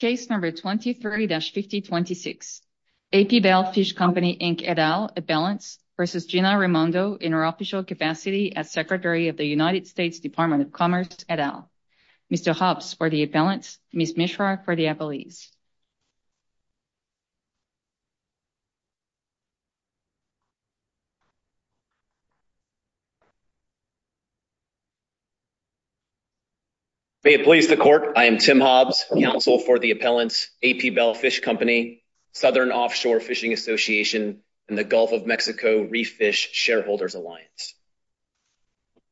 Case No. 23-5026, A.P. Bell Fish Company, Inc. et al. Appellants v. Gina Raimondo in her official capacity as Secretary of the United States Department of Commerce et al. Mr. Hobbs for the appellants, Ms. Mishra for the acqualeads. May it please the Court, I am Tim Hobbs, counsel for the appellants, A.P. Bell Fish Company, Southern Offshore Fishing Association, and the Gulf of Mexico Reef Fish Shareholders Alliance.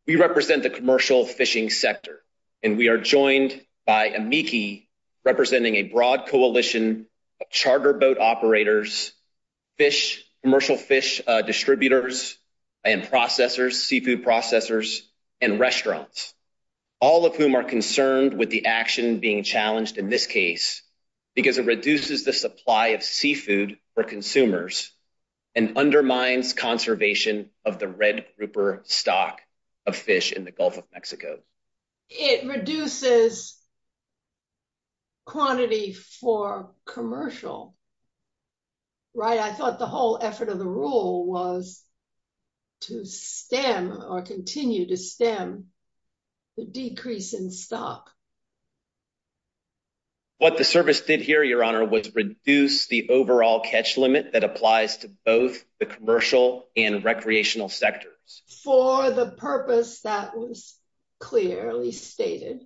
We represent the commercial fishing sector, and we are joined by Amiki, representing a charter boat operators, commercial fish distributors and processors, seafood processors, and restaurants, all of whom are concerned with the action being challenged in this case because it reduces the supply of seafood for consumers and undermines conservation of the red grouper stock of fish in the Gulf of Mexico. It reduces quantity for commercial, right? I thought the whole effort of the rule was to stem or continue to stem the decrease in stock. What the service did here, Your Honor, was reduce the overall catch limit that applies to both the commercial and recreational sectors. For the purpose that was clearly stated.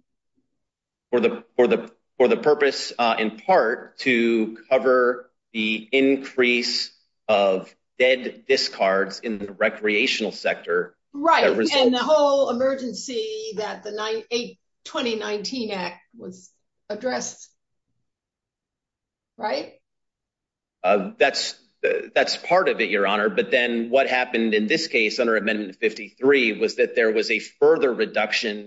For the purpose, in part, to cover the increase of dead discards in the recreational sector. Right. And the whole emergency that the 2019 Act would address. Right? That's part of it, Your Honor. But then what happened in this case under Amendment 53 was that there was a further reduction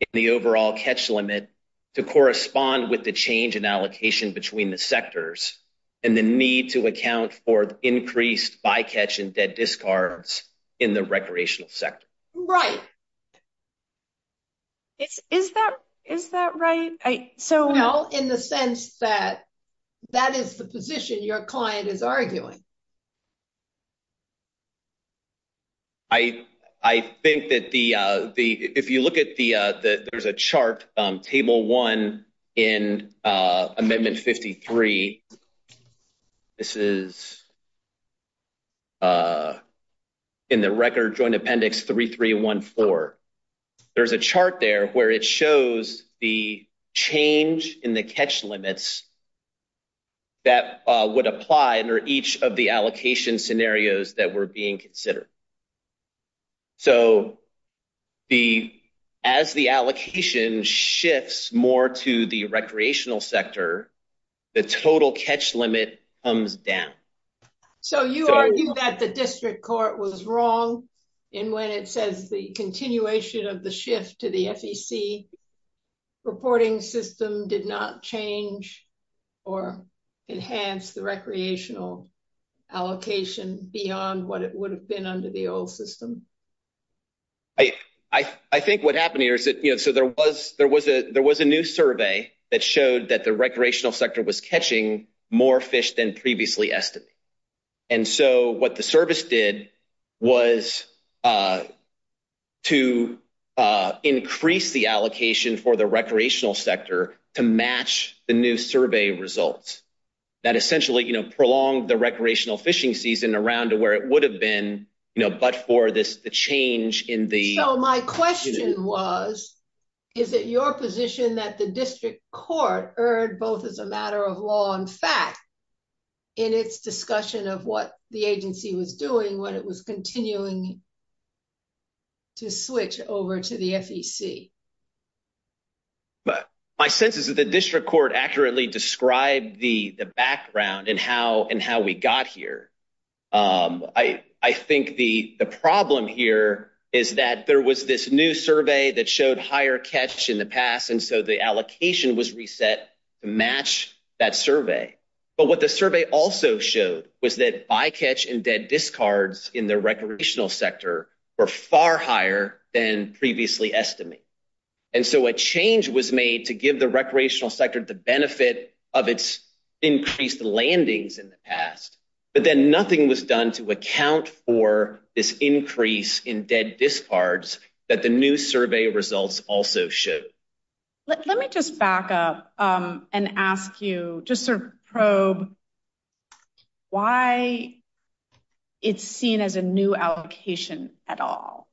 in the overall catch limit to correspond with the change in allocation between the sectors and the need to account for increased bycatch and dead discards in the recreational sector. Right. Is that right? So, well, in the sense that that is the position your client is arguing. I think that the, if you look at the, there's a chart, Table 1 in Amendment 53. This is in the Record Joint Appendix 3314. There's a chart there where it shows the change in the catch limits that would apply under each of the allocation scenarios that were being considered. So, as the allocation shifts more to the recreational sector, the total catch limit comes down. So, you argue that the district court was wrong in when it says the continuation of the shift to the SEC reporting system did not change or enhance the recreational allocation beyond what it would have been under the old system. I think what happened here is that, you know, so there was a new survey that showed that the recreational sector was catching more fish than previously estimated. And so, what the service did was to increase the allocation for the recreational sector to match the new survey results. That essentially, you know, prolonged the recreational fishing season around to where it would have been, you know, but for this change in the- So, my question was, is it your position that the district court erred both as a matter of law and fact in its discussion of what the agency was doing when it was continuing to switch over to the SEC? My sense is that the district court accurately described the background and how we got here. I think the problem here is that there was this new survey that showed higher catch in the past, and so the allocation was reset to match that survey. But what the survey also showed was that bycatch and dead discards in the recreational sector were far higher than previously estimated. And so, a change was made to give the recreational sector the benefit of its increased landings in the past, but then nothing was done to account for this increase in dead discards that the new survey results also showed. Let me just back up and ask you just to probe why it's seen as a new allocation at all.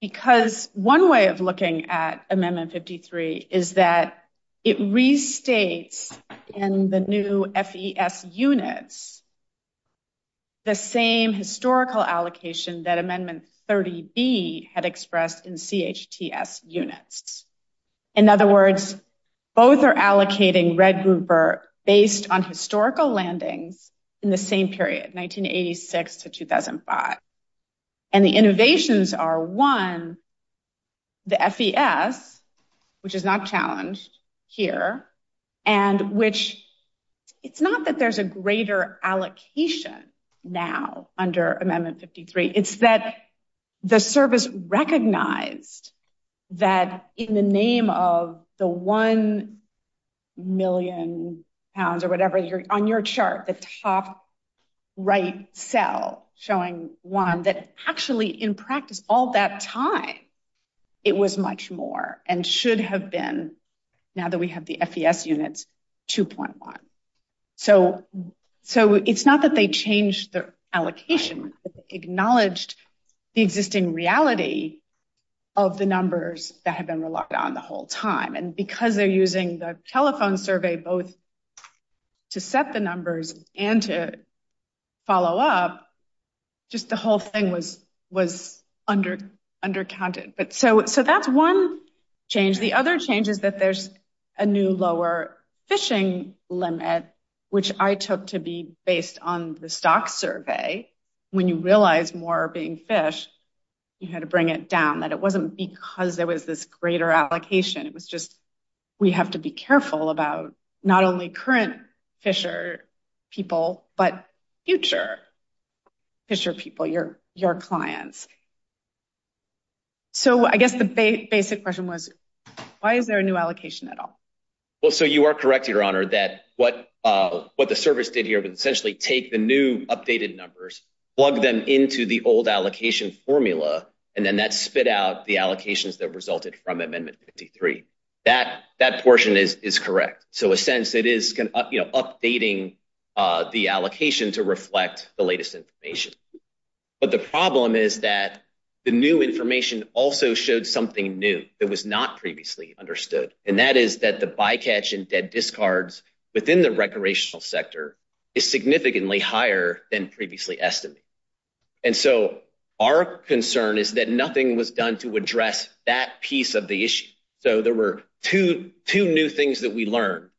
Because one way of looking at Amendment 53 is that it restates in the new FEF units the same historical allocation that Amendment 30B had expressed in CHTS units. In other words, both are allocating red grouper based on historical landings in the same period, 1986 to 2005. And the innovations are, one, the FEF, which is not challenged here, and which it's not that there's a greater allocation now under Amendment 53. It's that the service recognized that in the name of the one million pounds or whatever on your chart, the top right cell showing one, that actually in practice all that time it was much more and should have been, now that we have the FEF units, 2.1. So it's not that they changed the allocation, but they acknowledged the existing reality of the numbers that had been locked on the whole time. And because they're using the telephone survey both to set the numbers and to follow up, just the whole thing was undercounted. So that's one change. The other change is that there's a new lower fishing limit, which I took to be based on the stock survey. When you realize more are being fished, you had to bring it down. That it wasn't because there was this greater allocation. It was just, we have to be careful about not only current fisher people, but future fisher people, your clients. So I guess the basic question was, why is there a new allocation at all? Well, so you are correct, Your Honor, that what the service did here was essentially take the new updated numbers, plug them into the old allocation formula, and then that spit out the allocations that resulted from Amendment 53. That portion is correct. So in a sense, it is updating the allocation to reflect the latest information. But the problem is that the new information also showed something new that was not previously understood. And that is that the bycatch and dead discards within the recreational sector is significantly higher than previously estimated. And so our concern is that nothing was done to address that piece of the issue. So there were two new things that we learned.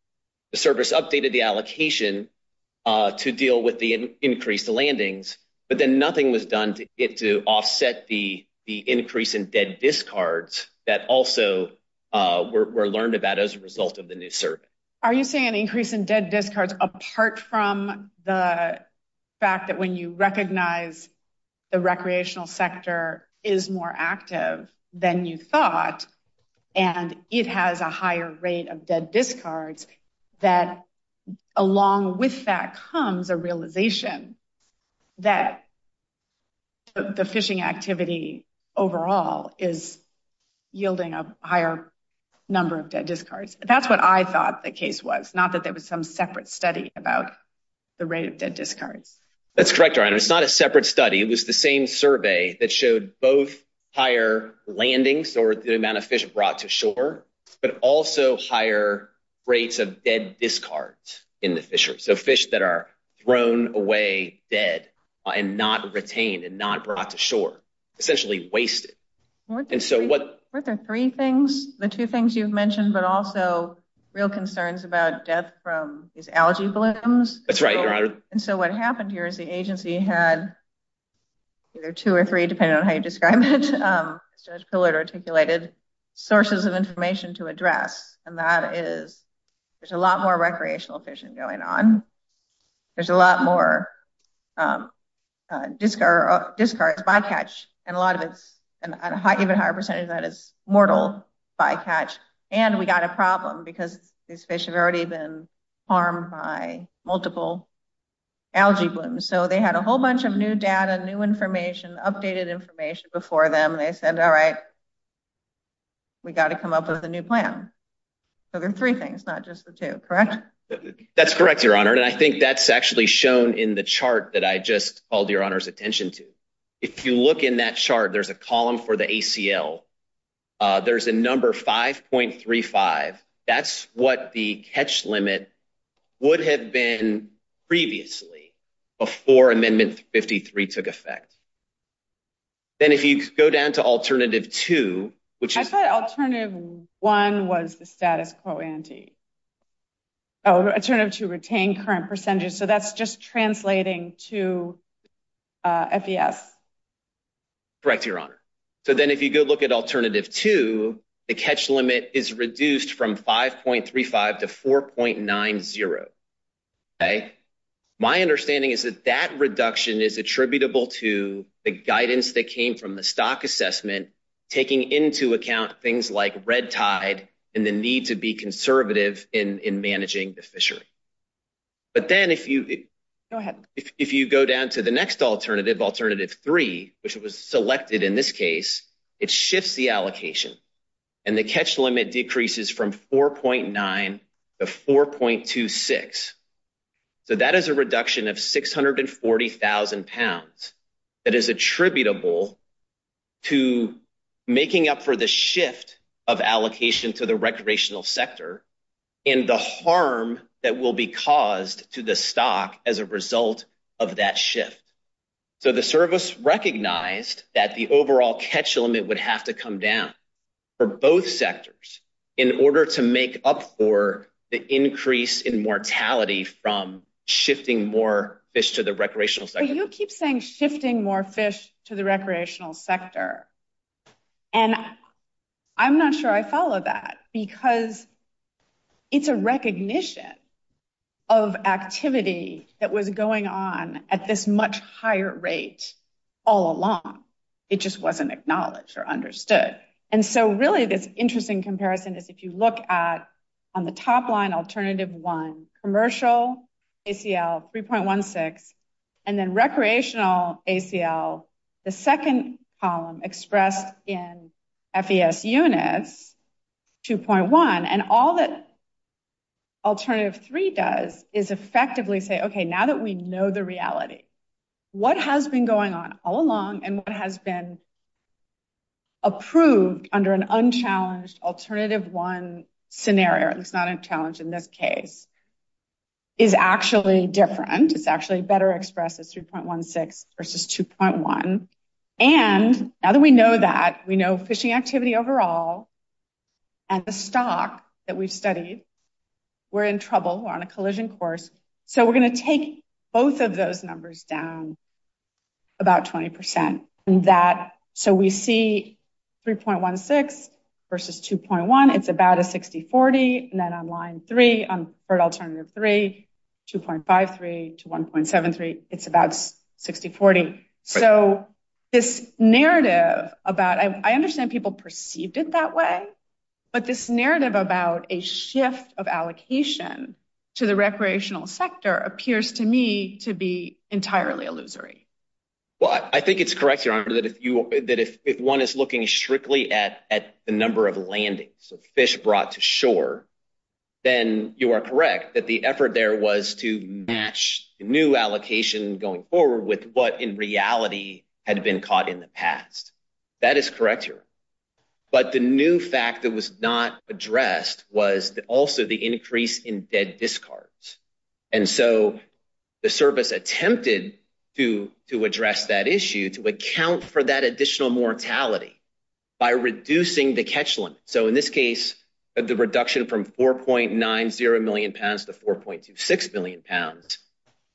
The service updated the allocation to deal with the increased landings, but then nothing was done to offset the increase in dead discards that also were learned about as a result of the new service. Are you saying an increase in dead discards apart from the fact that when you recognize the recreational sector is more active than you thought, and it has a higher rate of dead discards, that along with that comes the realization that the fishing activity overall is yielding a higher number of dead discards? That's what I thought the case was, not that there was some separate study about the rate of dead discards. That's correct, Ryan. It's not a separate study. It was the same survey that showed both higher landings or the amount of fish brought to rates of dead discards in the fishery, so fish that are thrown away dead and not retained and not brought to shore, essentially wasted. And so what... Weren't there three things, the two things you've mentioned, but also real concerns about death from these algae blooms? That's right, Your Honor. And so what happened here is the agency had either two or three, depending on how you There's a lot more recreational fishing going on. There's a lot more discards by catch, and a higher percentage of that is mortal by catch. And we got a problem because these fish had already been harmed by multiple algae blooms. So they had a whole bunch of new data, new information, updated information before them. They said, all right, we got to come up with a new plan. So there are three things, not just the two, correct? That's correct, Your Honor. And I think that's actually shown in the chart that I just called Your Honor's attention to. If you look in that chart, there's a column for the ACL. There's the number 5.35. That's what the catch limit would have been previously before Amendment 53 took effect. Then if you go down to Alternative 2, which is... I thought Alternative 1 was the status quo ante. Alternative 2, retain current percentage. So that's just translating to FES. Correct, Your Honor. So then if you go look at Alternative 2, the catch limit is reduced from 5.35 to 4.90. My understanding is that that reduction is attributable to the guidance that came from the stock assessment and taking into account things like red tide and the need to be conservative in managing the fishery. But then if you go down to the next alternative, Alternative 3, which was selected in this case, it shifts the allocation and the catch limit decreases from 4.9 to 4.26. So that is a reduction of 640,000 pounds. It is attributable to making up for the shift of allocation to the recreational sector and the harm that will be caused to the stock as a result of that shift. So the service recognized that the overall catch limit would have to come down for both sectors in order to make up for the increase in mortality from shifting more fish to the recreational sector. You keep saying shifting more fish to the recreational sector. And I'm not sure I follow that because it's a recognition of activity that was going on at this much higher rate all along. And so really this interesting comparison is if you look at, on the top line, Alternative 1, commercial ACL 3.16, and then recreational ACL, the second column expressed in FES units, 2.1. And all that Alternative 3 does is effectively say, okay, now that we know the reality, what has been going on all along and what has been approved under an unchallenged Alternative 1 scenario, it's not a challenge in this case, is actually different. It's actually better expressed as 3.16 versus 2.1. And now that we know that, we know fishing activity overall and the stock that we've studied, we're in trouble, we're on a collision course. So we're going to take both of those numbers down about 20%. So we see 3.16 versus 2.1, it's about a 60-40. And then on line 3, on fertile Alternative 3, 2.53 to 1.73, it's about 60-40. So this narrative about, I understand people perceived it that way, but this narrative about a shift of allocation to the recreational sector appears to me to be entirely illusory. Well, I think it's correct, Your Honor, that if one is looking strictly at the number of landings of fish brought to shore, then you are correct that the effort there was to match new allocation going forward with what in reality had been caught in the past. That is correct, Your Honor. But the new fact that was not addressed was also the increase in dead discards. And so the service attempted to address that issue, to account for that additional mortality by reducing the catch limit. So in this case, the reduction from 4.90 million pounds to 4.66 million pounds,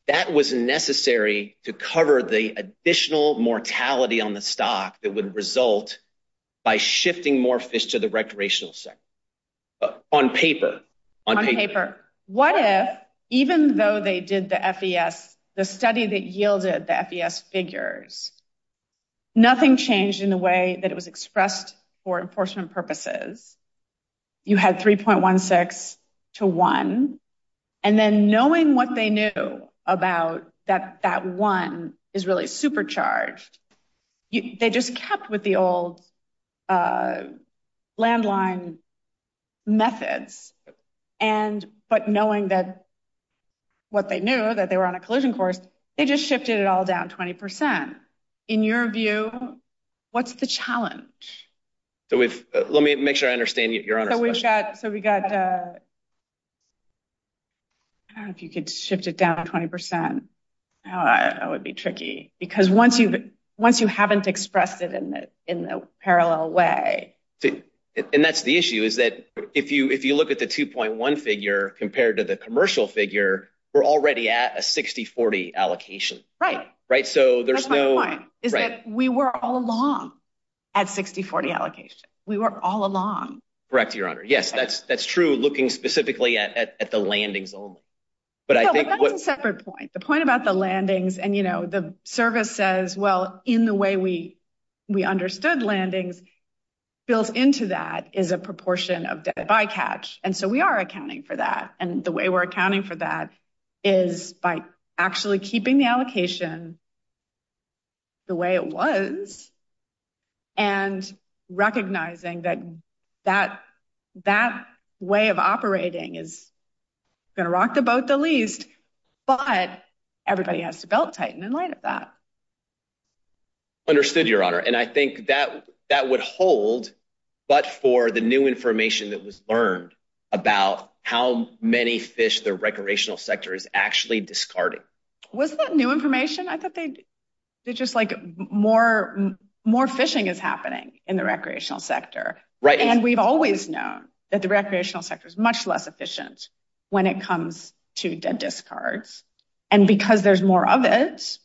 that was necessary to cover the additional mortality on the stock that would result by shifting more fish to the recreational sector. On paper. On paper. Your Honor, what if, even though they did the FES, the study that yielded the FES figures, nothing changed in the way that it was expressed for enforcement purposes? You had 3.16 to 1. And then knowing what they knew about that 1 is really supercharged, they just kept with the old landline methods. But knowing what they knew, that they were on a collision course, they just shifted it all down 20%. In your view, what's the challenge? Let me make sure I understand your question. So we've got... I don't know if you could shift it down 20%. That would be tricky. Because once you haven't expressed it in the parallel way... And that's the issue, is that if you look at the 2.1 figure compared to the commercial figure, we're already at a 60-40 allocation. Right. That's my point, is that we were all along at 60-40 allocation. We were all along. Correct, Your Honor. Yes, that's true, looking specifically at the landing zone. That's a separate point. The point about the landings and, you know, the service says, well, in the way we understood landings, built into that is a proportion of the eye catch. And so we are accounting for that. And the way we're accounting for that is by actually keeping the allocation the way it was and recognizing that that way of operating is going to rock the boat the least, but everybody has to belt tighten in light of that. Understood, Your Honor. And I think that would hold, but for the new information that was learned about how many fish the recreational sector has actually discarded. Was that new information? I thought they... It's just like more fishing is happening in the recreational sector. Right. And we've always known that the recreational sector is much less efficient when it comes to dead discards. And because there's more of it,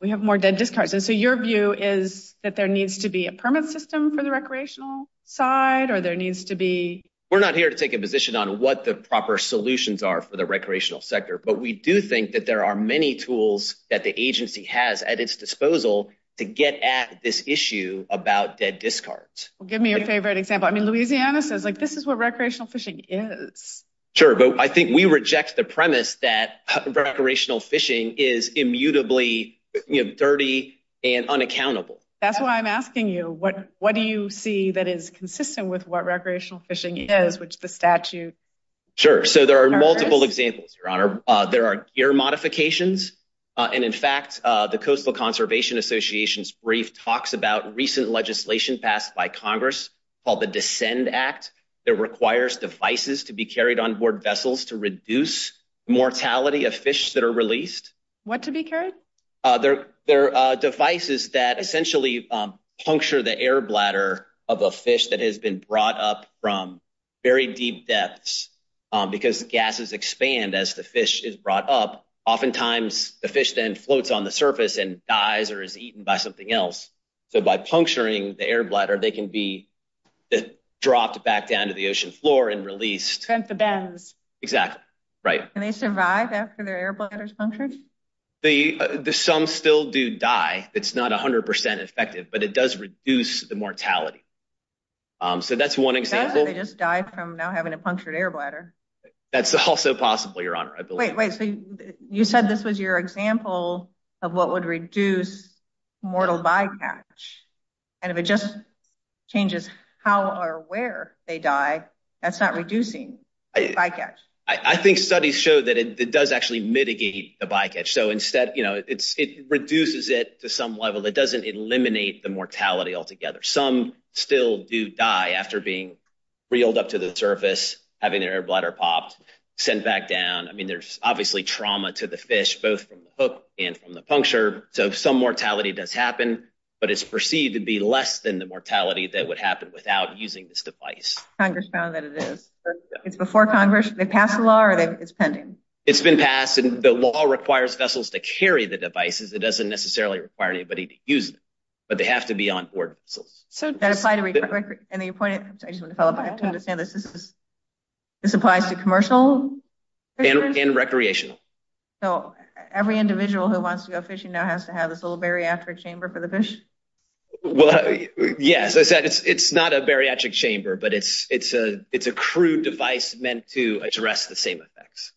we have more dead discards. And so your view is that there needs to be a permit system for the recreational side or there needs to be... We're not here to take a position on what the proper solutions are for the recreational sector. But we do think that there are many tools that the agency has at its disposal to get at this issue about dead discards. Give me your favorite example. I mean, Louisiana says, like, this is what recreational fishing is. Sure. But I think we reject the premise that recreational fishing is immutably dirty and unaccountable. That's why I'm asking you, what do you see that is consistent with what recreational fishing is, which is the statute? Sure. So there are multiple examples, Your Honor. There are gear modifications. And in fact, the Coastal Conservation Association's brief talks about recent legislation passed by Congress called the Descend Act that requires devices to be carried onboard vessels to reduce mortality of fish that are released. What to be carried? They're devices that essentially puncture the air bladder of a fish that has been brought up from very deep depths. Because gases expand as the fish is brought up. Oftentimes, the fish then floats on the surface and dies or is eaten by something else. So by puncturing the air bladder, they can be dropped back down to the ocean floor and released. Sent to beds. Exactly. Right. And they survive after their air bladder is punctured? Some still do die. It's not 100% effective, but it does reduce the mortality. So that's one example. What if they just die from not having a punctured air bladder? That's also possible, Your Honor. Wait, wait. You said this was your example of what would reduce mortal bycatch. And if it just changes how or where they die, that's not reducing bycatch. I think studies show that it does actually mitigate the bycatch. So instead, you know, it reduces it to some level. It doesn't eliminate the mortality altogether. Some still do die after being reeled up to the surface, having their air bladder popped, sent back down. I mean, there's obviously trauma to the fish, both from the hook and from the puncture. So some mortality does happen, but it's perceived to be less than the mortality that would happen without using this device. Congress found that it is. It's before Congress. Did they pass the law or it's pending? It's been passed. And the law requires vessels to carry the devices. It doesn't necessarily require anybody to use them. But they have to be on board. So does that apply to any appointed? I just want to clarify. I don't understand this. This applies to commercial? And recreational. So every individual who wants to go fishing now has to have this little bariatric chamber for the fish? Well, yes. It's not a bariatric chamber, but it's a crew device meant to address the same effects.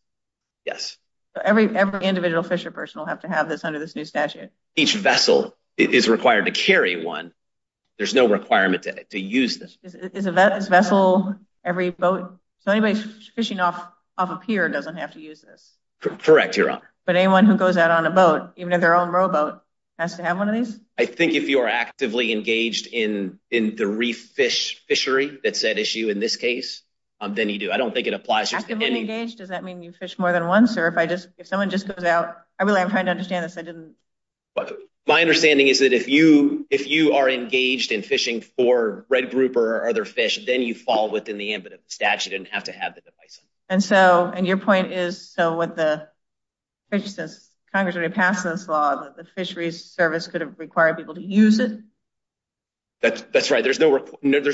Yes. So every individual fisher person will have to have this under this new statute? Each vessel is required to carry one. There's no requirement to use this. Is a vessel every boat? So anybody fishing off a pier doesn't have to use this? Correct, you're right. But anyone who goes out on a boat, even if they're on a rowboat, has to have one of these? I think if you are actively engaged in the reef fish fishery, that's that issue in this case. Then you do. I don't think it applies to any... Actively engaged, does that mean you fish more than once? Or if someone just goes out... I'm trying to understand this. I didn't... My understanding is that if you are engaged in fishing for red grouper or other fish, then you fall within the ambit of the statute and have to have the device. And your point is, so what the... Congress already passed this law that the fisheries service couldn't require people to use it? That's right. There's no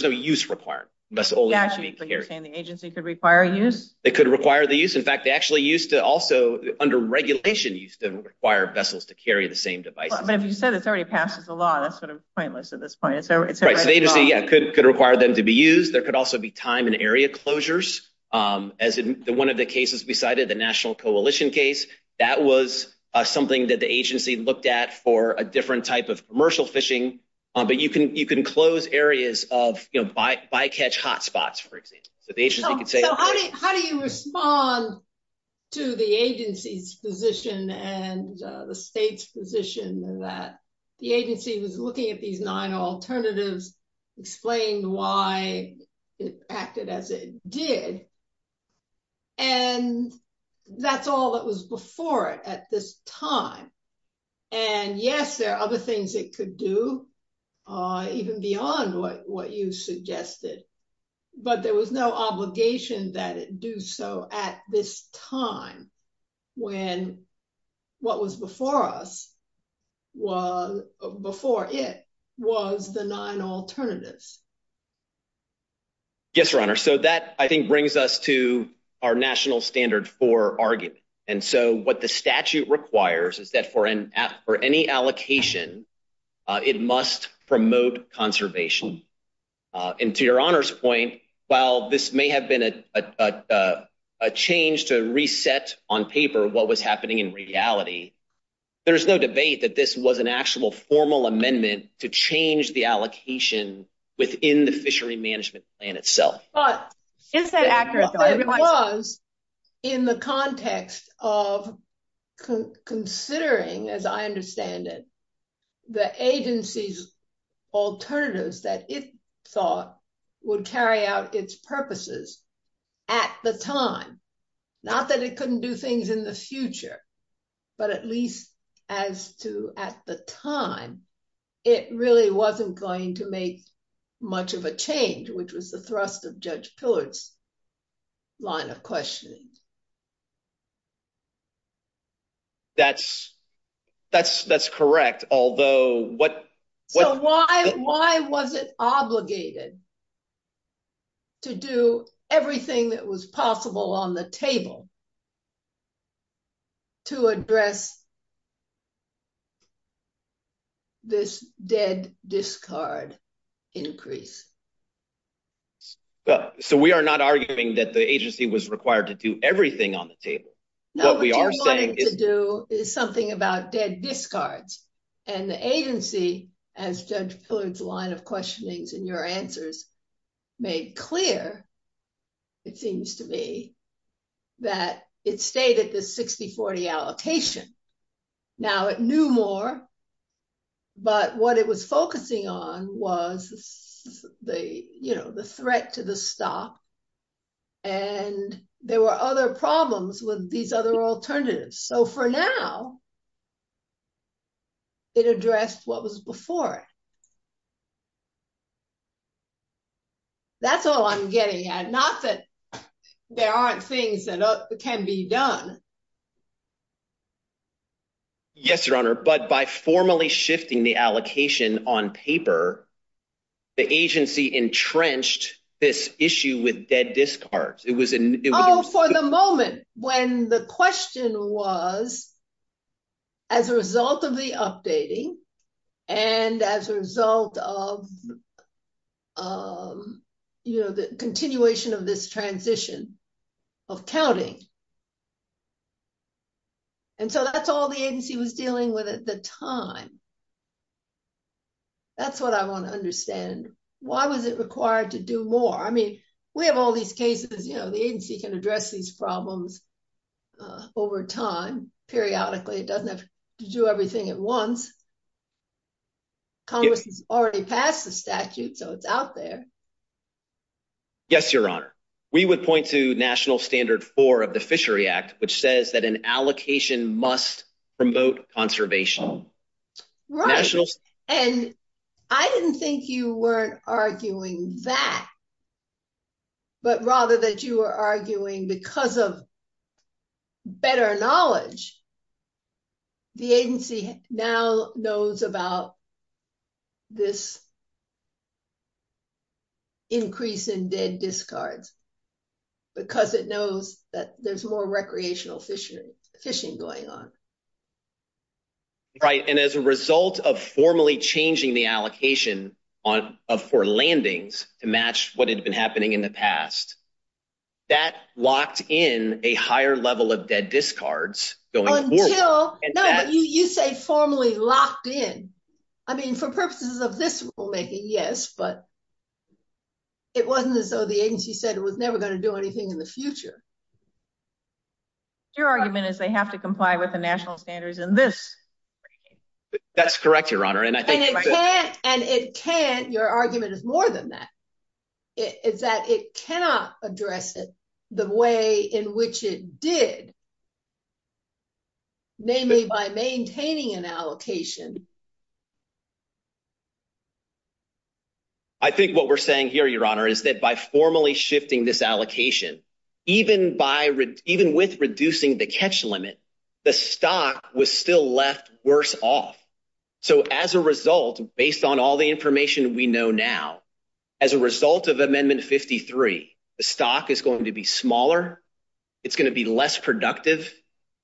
use required. That's all that's being carried. So you're saying the agency could require use? It could require the use. In fact, they actually used to also, under regulation, used to require vessels to carry the same device. But you said it's already passed the law. That's sort of pointless at this point. The agency, yeah, could require them to be used. There could also be time and area closures, as in one of the cases we cited, the National Coalition case. That was something that the agency looked at for a different type of commercial fishing. But you can close areas of bycatch hotspots, for example. So the agency could say... How do you respond to the agency's position and the state's position that the agency was looking at these nine alternatives, explaining why it acted as it did? And that's all that was before it at this time. And yes, there are other things it could do, even beyond what you suggested. But there was no obligation that it do so at this time when what was before us, before it, was the nine alternatives. Yes, Your Honor. So that, I think, brings us to our national standard for argument. And so what the statute requires is that for any allocation, it must promote conservation. And to Your Honor's point, while this may have been a change to reset on paper what was happening in reality, there's no debate that this was an actual formal amendment to change the allocation within the fishery management plan itself. But it was in the context of considering, as I understand it, the agency's alternatives that it thought would carry out its purposes at the time. Not that it couldn't do things in the future, but at least as to at the time, it really wasn't going to make much of a change, which was the thrust of Judge Pillard's line of questioning. That's correct. So why was it obligated to do everything that was possible on the table to address this dead discard increase? So we are not arguing that the agency was required to do everything on the table. No, what it wanted to do is something about dead discards. And the agency, as Judge Pillard's line of questioning in your answers made clear, it seems to me, that it stated the 60-40 allocation. Now, it knew more, but what it was focusing on was the threat to the stock. And there were other problems with these other alternatives. So for now, it addressed what was before it. That's all I'm getting at. Not that there aren't things that can be done. Yes, Your Honor, but by formally shifting the allocation on paper, the agency entrenched this issue with dead discards. Oh, for the moment, when the question was, as a result of the updating and as a result of the continuation of this transition of counting, and so that's all the agency was dealing with at the time. That's what I want to understand. Why was it required to do more? I mean, we have all these cases, you know, the agency can address these problems over time, periodically. It doesn't have to do everything at once. Congress has already passed the statute, so it's out there. Yes, Your Honor. We would point to National Standard 4 of the Fishery Act, which says that an allocation must promote conservation. Right, and I didn't think you weren't arguing that, but rather that you were arguing because of better knowledge, the agency now knows about this increase in dead discards because it knows that there's more recreational fishing going on. Right, and as a result of formally changing the allocation for landings to match what had been happening in the past, that locked in a higher level of dead discards going forward. No, you say formally locked in. I mean, for purposes of this rulemaking, yes, but it wasn't as though the agency said it was never going to do anything in the future. Your argument is they have to comply with the national standards in this. That's correct, Your Honor. Your argument is more than that. It's that it cannot address it the way in which it did, namely by maintaining an allocation. I think what we're saying here, Your Honor, is that by formally shifting this allocation, even with reducing the catch limit, the stock was still left worse off. As a result, based on all the information we know now, as a result of Amendment 53, the stock is going to be smaller. It's going to be less productive.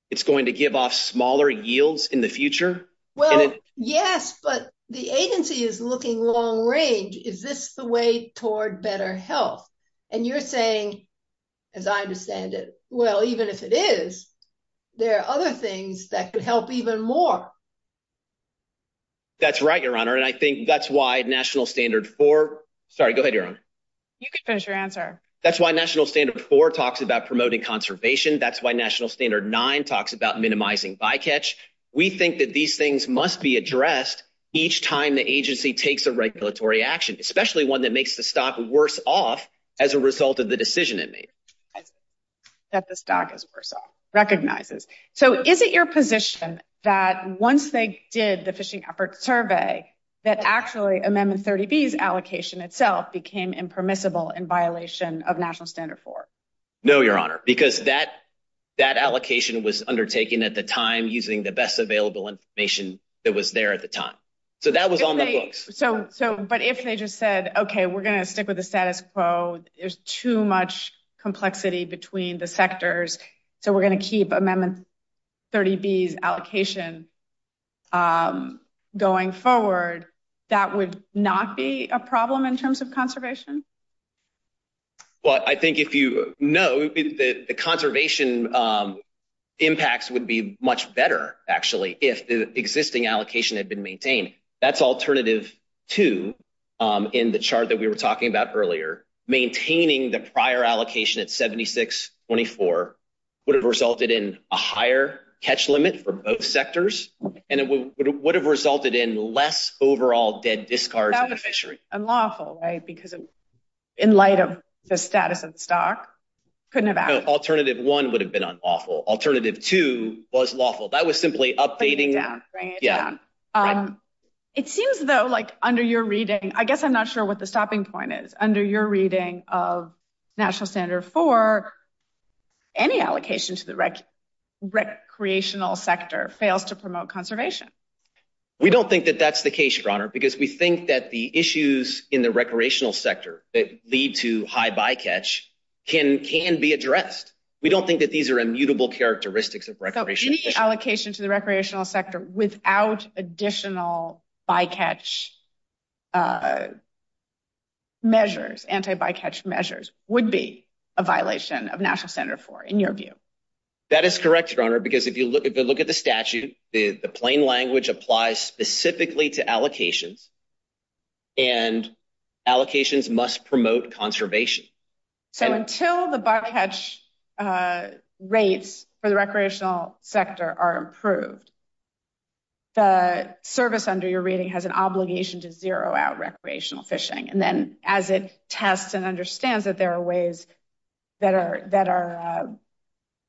It's going to give off smaller yields in the future. Well, yes, but the agency is looking long range. Is this the way toward better health? You're saying, as I understand it, well, even if it is, there are other things that could help even more. That's right, Your Honor, and I think that's why National Standard 4 – sorry, go ahead, Your Honor. You can finish your answer. That's why National Standard 4 talks about promoting conservation. That's why National Standard 9 talks about minimizing bycatch. We think that these things must be addressed each time the agency takes a regulatory action, especially one that makes the stock worse off as a result of the decision it made. That the stock is worse off, recognizes. So is it your position that once they did the fishing efforts survey, that actually Amendment 30B's allocation itself became impermissible in violation of National Standard 4? No, Your Honor, because that allocation was undertaken at the time using the best available information that was there at the time. So that was almost – But if they just said, okay, we're going to stick with the status quo, there's too much complexity between the sectors, so we're going to keep Amendment 30B's allocation going forward, that would not be a problem in terms of conservation? Well, I think if you know, the conservation impacts would be much better, actually, if the existing allocation had been maintained. That's alternative two in the chart that we were talking about earlier. Maintaining the prior allocation at 76-24 would have resulted in a higher catch limit for both sectors, and it would have resulted in less overall dead discard for fisheries. Unlawful, right? Because in light of the status of stock, couldn't have happened. Alternative one would have been unlawful. Alternative two was lawful. That was simply updating – Bring it down, bring it down. Yeah. It seems, though, like under your reading – I guess I'm not sure what the stopping point is. Under your reading of National Standard 4, any allocation to the recreational sector fails to promote conservation. We don't think that that's the case, Your Honor, because we think that the issues in the recreational sector that lead to high bycatch can be addressed. We don't think that these are immutable characteristics of recreational sector. So, any allocation to the recreational sector without additional bycatch measures, anti-bycatch measures, would be a violation of National Standard 4, in your view? That is correct, Your Honor, because if you look at the statute, the plain language applies specifically to allocations, and allocations must promote conservation. So, until the bycatch rates for the recreational sector are improved, the service under your reading has an obligation to zero out recreational fishing. And then, as it tests and understands that there are ways that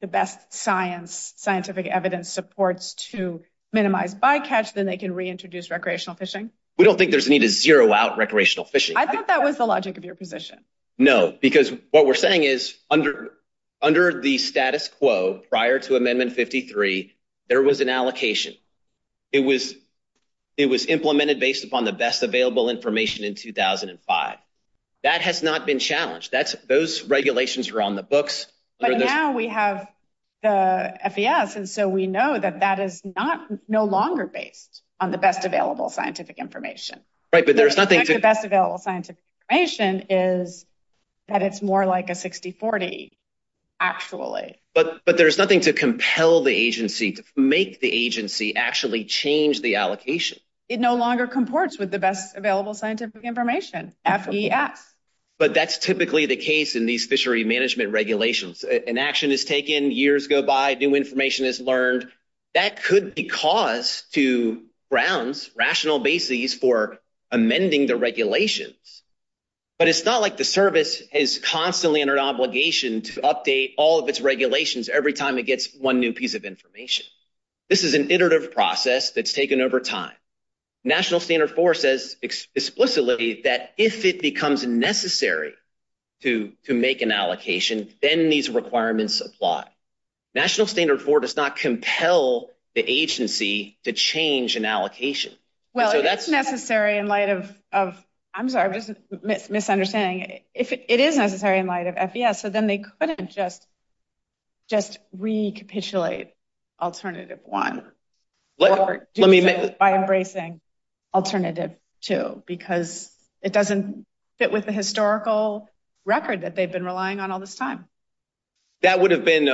the best scientific evidence supports to minimize bycatch, then they can reintroduce recreational fishing. We don't think there's a need to zero out recreational fishing. I thought that was the logic of your position. No, because what we're saying is, under the status quo prior to Amendment 53, there was an allocation. It was implemented based upon the best available information in 2005. That has not been challenged. Those regulations are on the books. But now we have the FES, and so we know that that is no longer based on the best available scientific information. Right, but there's nothing... The best available scientific information is that it's more like a 60-40, actually. But there's nothing to compel the agency, to make the agency actually change the allocation. It no longer comports with the best available scientific information. Absolutely. Yeah. But that's typically the case in these fishery management regulations. An action is taken, years go by, new information is learned. That could be cause to grounds, rational basis for amending the regulations. But it's not like the service is constantly under obligation to update all of its regulations every time it gets one new piece of information. This is an iterative process that's taken over time. National Standard 4 says explicitly that if it becomes necessary to make an allocation, then these requirements apply. National Standard 4 does not compel the agency to change an allocation. Well, it is necessary in light of... I'm sorry, I'm just misunderstanding. It is necessary in light of FES, so then they couldn't just recapitulate Alternative 1 by embracing Alternative 2, because it doesn't fit with the historical record that they've been relying on all this time. That would have been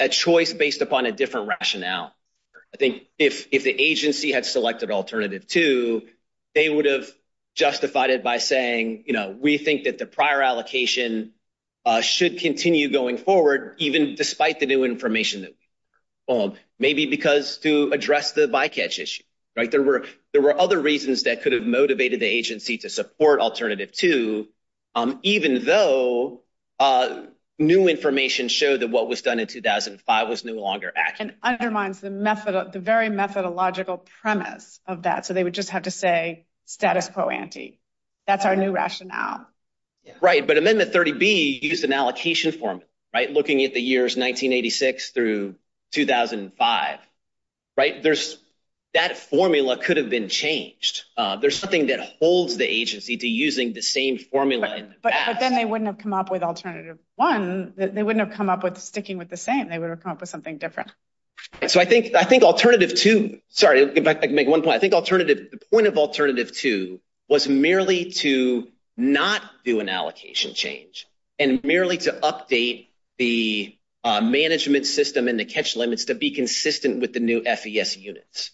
a choice based upon a different rationale. I think if the agency had selected Alternative 2, they would have justified it by saying, you know, we think that the prior allocation should continue going forward, even despite the new information. Maybe because to address the bycatch issue, right? There were other reasons that could have motivated the agency to support Alternative 2, even though new information showed that what was done in 2005 was no longer active. And undermines the very methodological premise of that, so they would just have to say status quo ante. That's our new rationale. Right, but Amendment 30B used an allocation formula, right? Looking at the years 1986 through 2005, right? That formula could have been changed. There's something that holds the agency to using the same formula. But then they wouldn't have come up with Alternative 1. They wouldn't have come up with sticking with the same. They would have come up with something different. So I think Alternative 2, sorry, let me make one point. I think the point of Alternative 2 was merely to not do an allocation change and merely to update the management system and the catch limits to be consistent with the new FES units.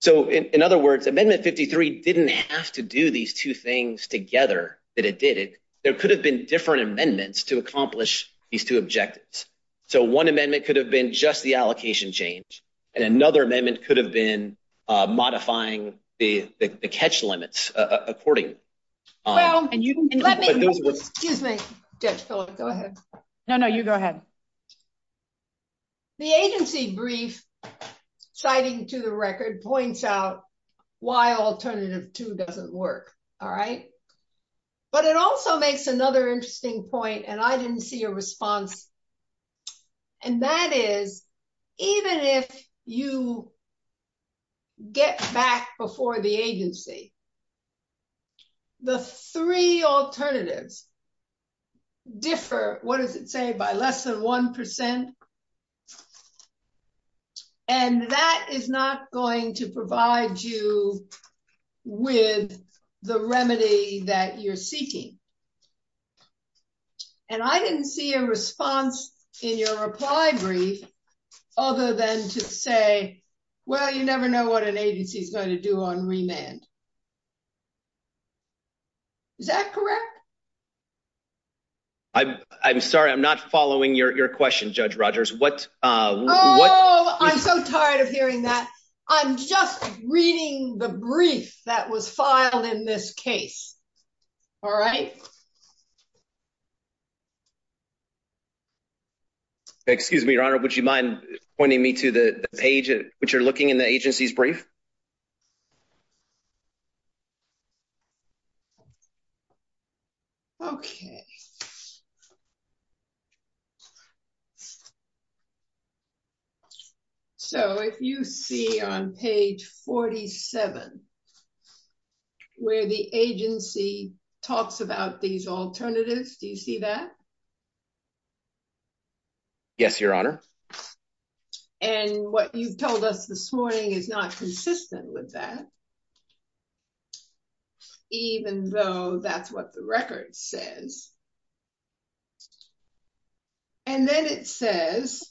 So in other words, Amendment 53 didn't have to do these two things together that it did. There could have been different amendments to accomplish these two objectives. So one amendment could have been just the allocation change, and another amendment could have been modifying the catch limits according. Excuse me. Go ahead. No, no, you go ahead. The agency brief citing to the record points out why Alternative 2 doesn't work, all right? But it also makes another interesting point, and I didn't see a response, and that is even if you get back before the agency, the three alternatives differ, what does it say, by less than 1%, and that is not going to provide you with the remedy that you're seeking. And I didn't see a response in your reply brief other than to say, well, you never know what an agency is going to do on remand. Is that correct? I'm sorry. I'm not following your question, Judge Rogers. Oh, I'm so tired of hearing that. I'm just reading the brief that was filed in this case, all right? Excuse me, Your Honor. Would you mind pointing me to the page that you're looking in the agency's brief? Okay. So if you see on page 47 where the agency talks about these alternatives, do you see that? Yes, Your Honor. And what you told us this morning is not consistent with that, even though that's what the record says. And then it says,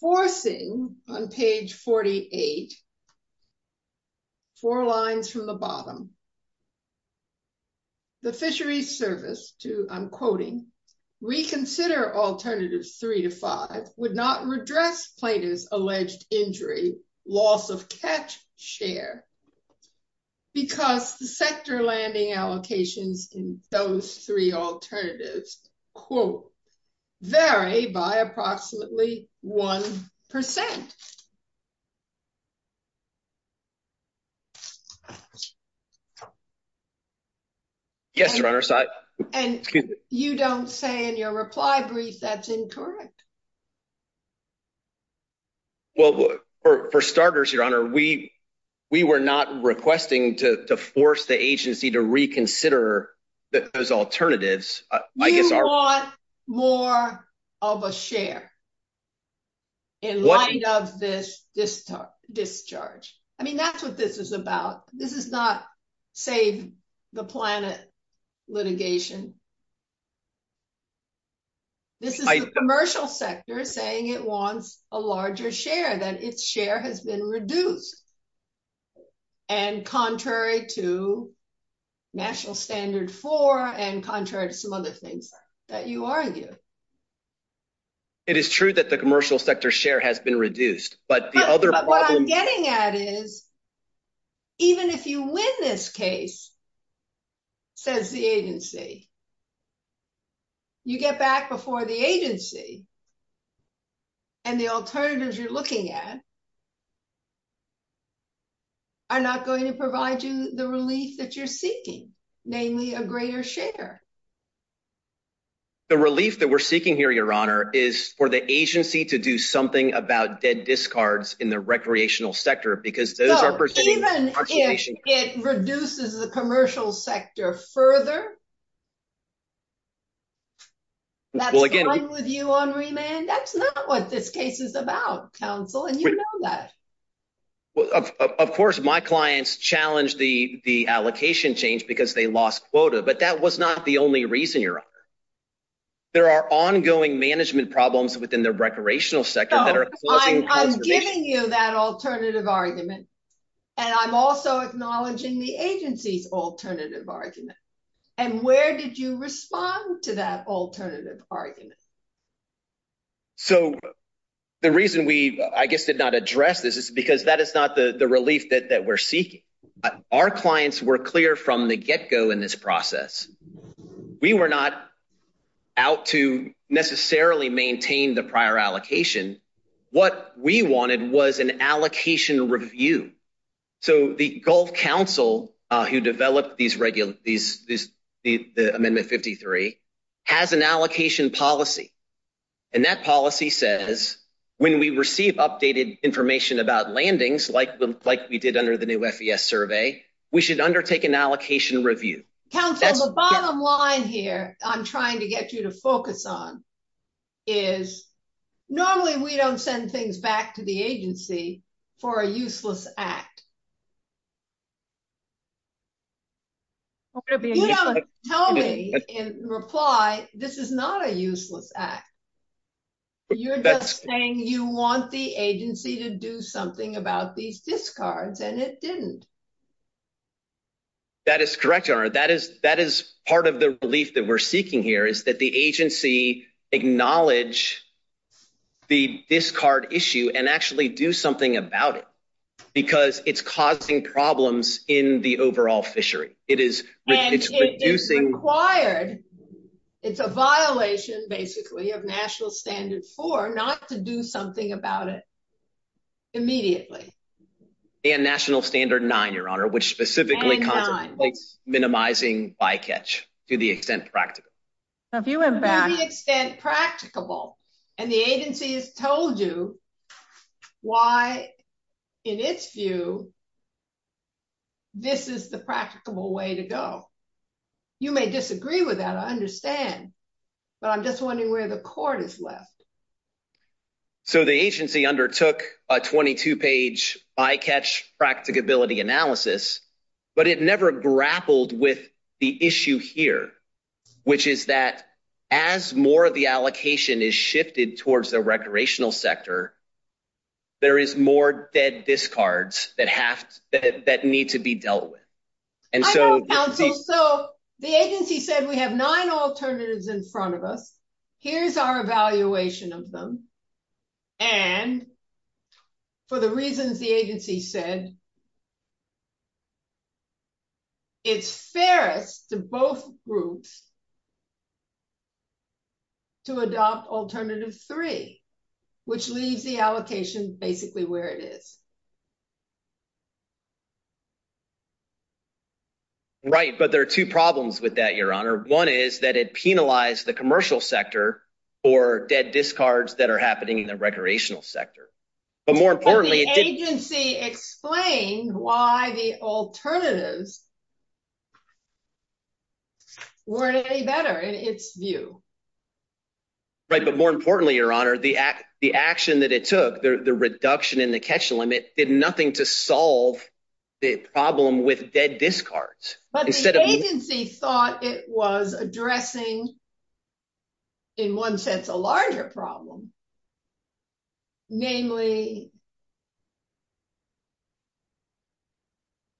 Forcing, on page 48, four lines from the bottom, the fisheries service to, I'm quoting, reconsider alternatives three to five would not redress Plata's alleged injury, loss of catch share because the sector landing allocations in those three alternatives, quote, vary by approximately 1%. Yes, Your Honor. And you don't say in your reply brief that's incorrect. We were not requesting to force the agency to reconsider those alternatives. You want more of a share in light of this discharge. I mean, that's what this is about. This is not, say, the Planet litigation. This is the commercial sector saying it wants a larger share, that its share has been reduced. And contrary to National Standard 4 and contrary to some other things that you argued. It is true that the commercial sector share has been reduced. But the other problem – But what I'm getting at is even if you win this case, says the agency, you get back before the agency and the alternatives you're looking at are not going to provide you the relief that you're seeking, namely a greater share. The relief that we're seeking here, Your Honor, is for the agency to do something about dead discards in the recreational sector. Even if it reduces the commercial sector further, that's fine with you on remand? That's not what this case is about, counsel, and you know that. Of course, my clients challenged the allocation change because they lost quota. But that was not the only reason, Your Honor. There are ongoing management problems within the recreational sector that are I'm acknowledging the agency's alternative argument, and I'm also acknowledging the agency's alternative argument. And where did you respond to that alternative argument? So the reason we, I guess, did not address this is because that is not the relief that we're seeking. Our clients were clear from the get-go in this process. We were not out to necessarily maintain the prior allocation. What we wanted was an allocation review. So the Gulf Council, who developed these regulations, Amendment 53, has an allocation policy. And that policy says when we receive updated information about landings, like we did under the new FES survey, we should undertake an allocation review. Counsel, the bottom line here I'm trying to get you to focus on is, normally we don't send things back to the agency for a useless act. You don't tell me in reply, this is not a useless act. You're just saying you want the agency to do something about these discards, and it didn't. That is correct, Your Honor. That is part of the relief that we're seeking here, is that the agency acknowledge the discard issue, and actually do something about it. Because it's causing problems in the overall fishery. And it's a violation, basically, of National Standard 4 not to do something about it immediately. And National Standard 9, Your Honor, which specifically minimizes bycatch to the extent practical. To the extent practicable. And the agency has told you why, in its view, this is the practicable way to go. You may disagree with that, I understand, but I'm just wondering where the court is left. So the agency undertook a 22-page bycatch practicability analysis, but it never grappled with the issue here, which is that as more of the allocation is shifted towards the recreational sector, there is more dead discards that need to be dealt with. So the agency said we have nine alternatives in front of us. Here's our evaluation of them. And for the reasons the agency said, it's fair to both groups to adopt alternative three, which leaves the allocation basically where it is. Right, but there are two problems with that, Your Honor. One is that it penalized the commercial sector for dead discards that are happening in the recreational sector. But more importantly, the agency explained why the alternatives weren't any better, in its view. Right, but more importantly, Your Honor, the action that it took, the reduction in the catch limit, did nothing to solve the problem with dead discards. But the agency thought it was addressing, in one sense, a larger problem, namely,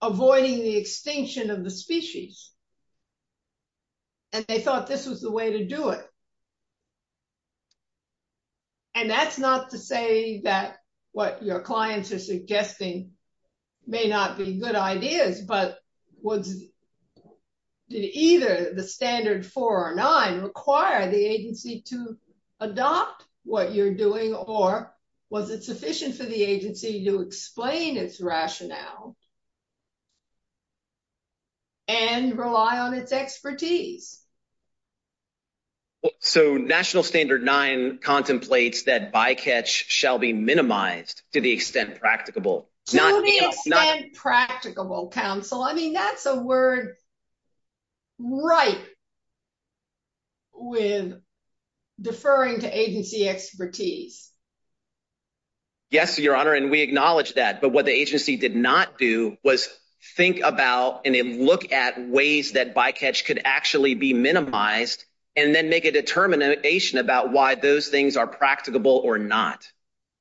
avoiding the extinction of the species. And they thought this was the way to do it. And that's not to say that what your clients are suggesting may not be good ideas. But did either the standard four or nine require the agency to adopt what you're doing? Or was it sufficient for the agency to explain its rationale and rely on its expertise? So national standard nine contemplates that bycatch shall be minimized to the extent practicable. To the extent practicable, counsel. I mean, that's a word ripe with deferring to agency expertise. Yes, Your Honor, and we acknowledge that. But what the agency did not do was think about and look at ways that bycatch could actually be minimized and then make a determination about why those things are practicable or not.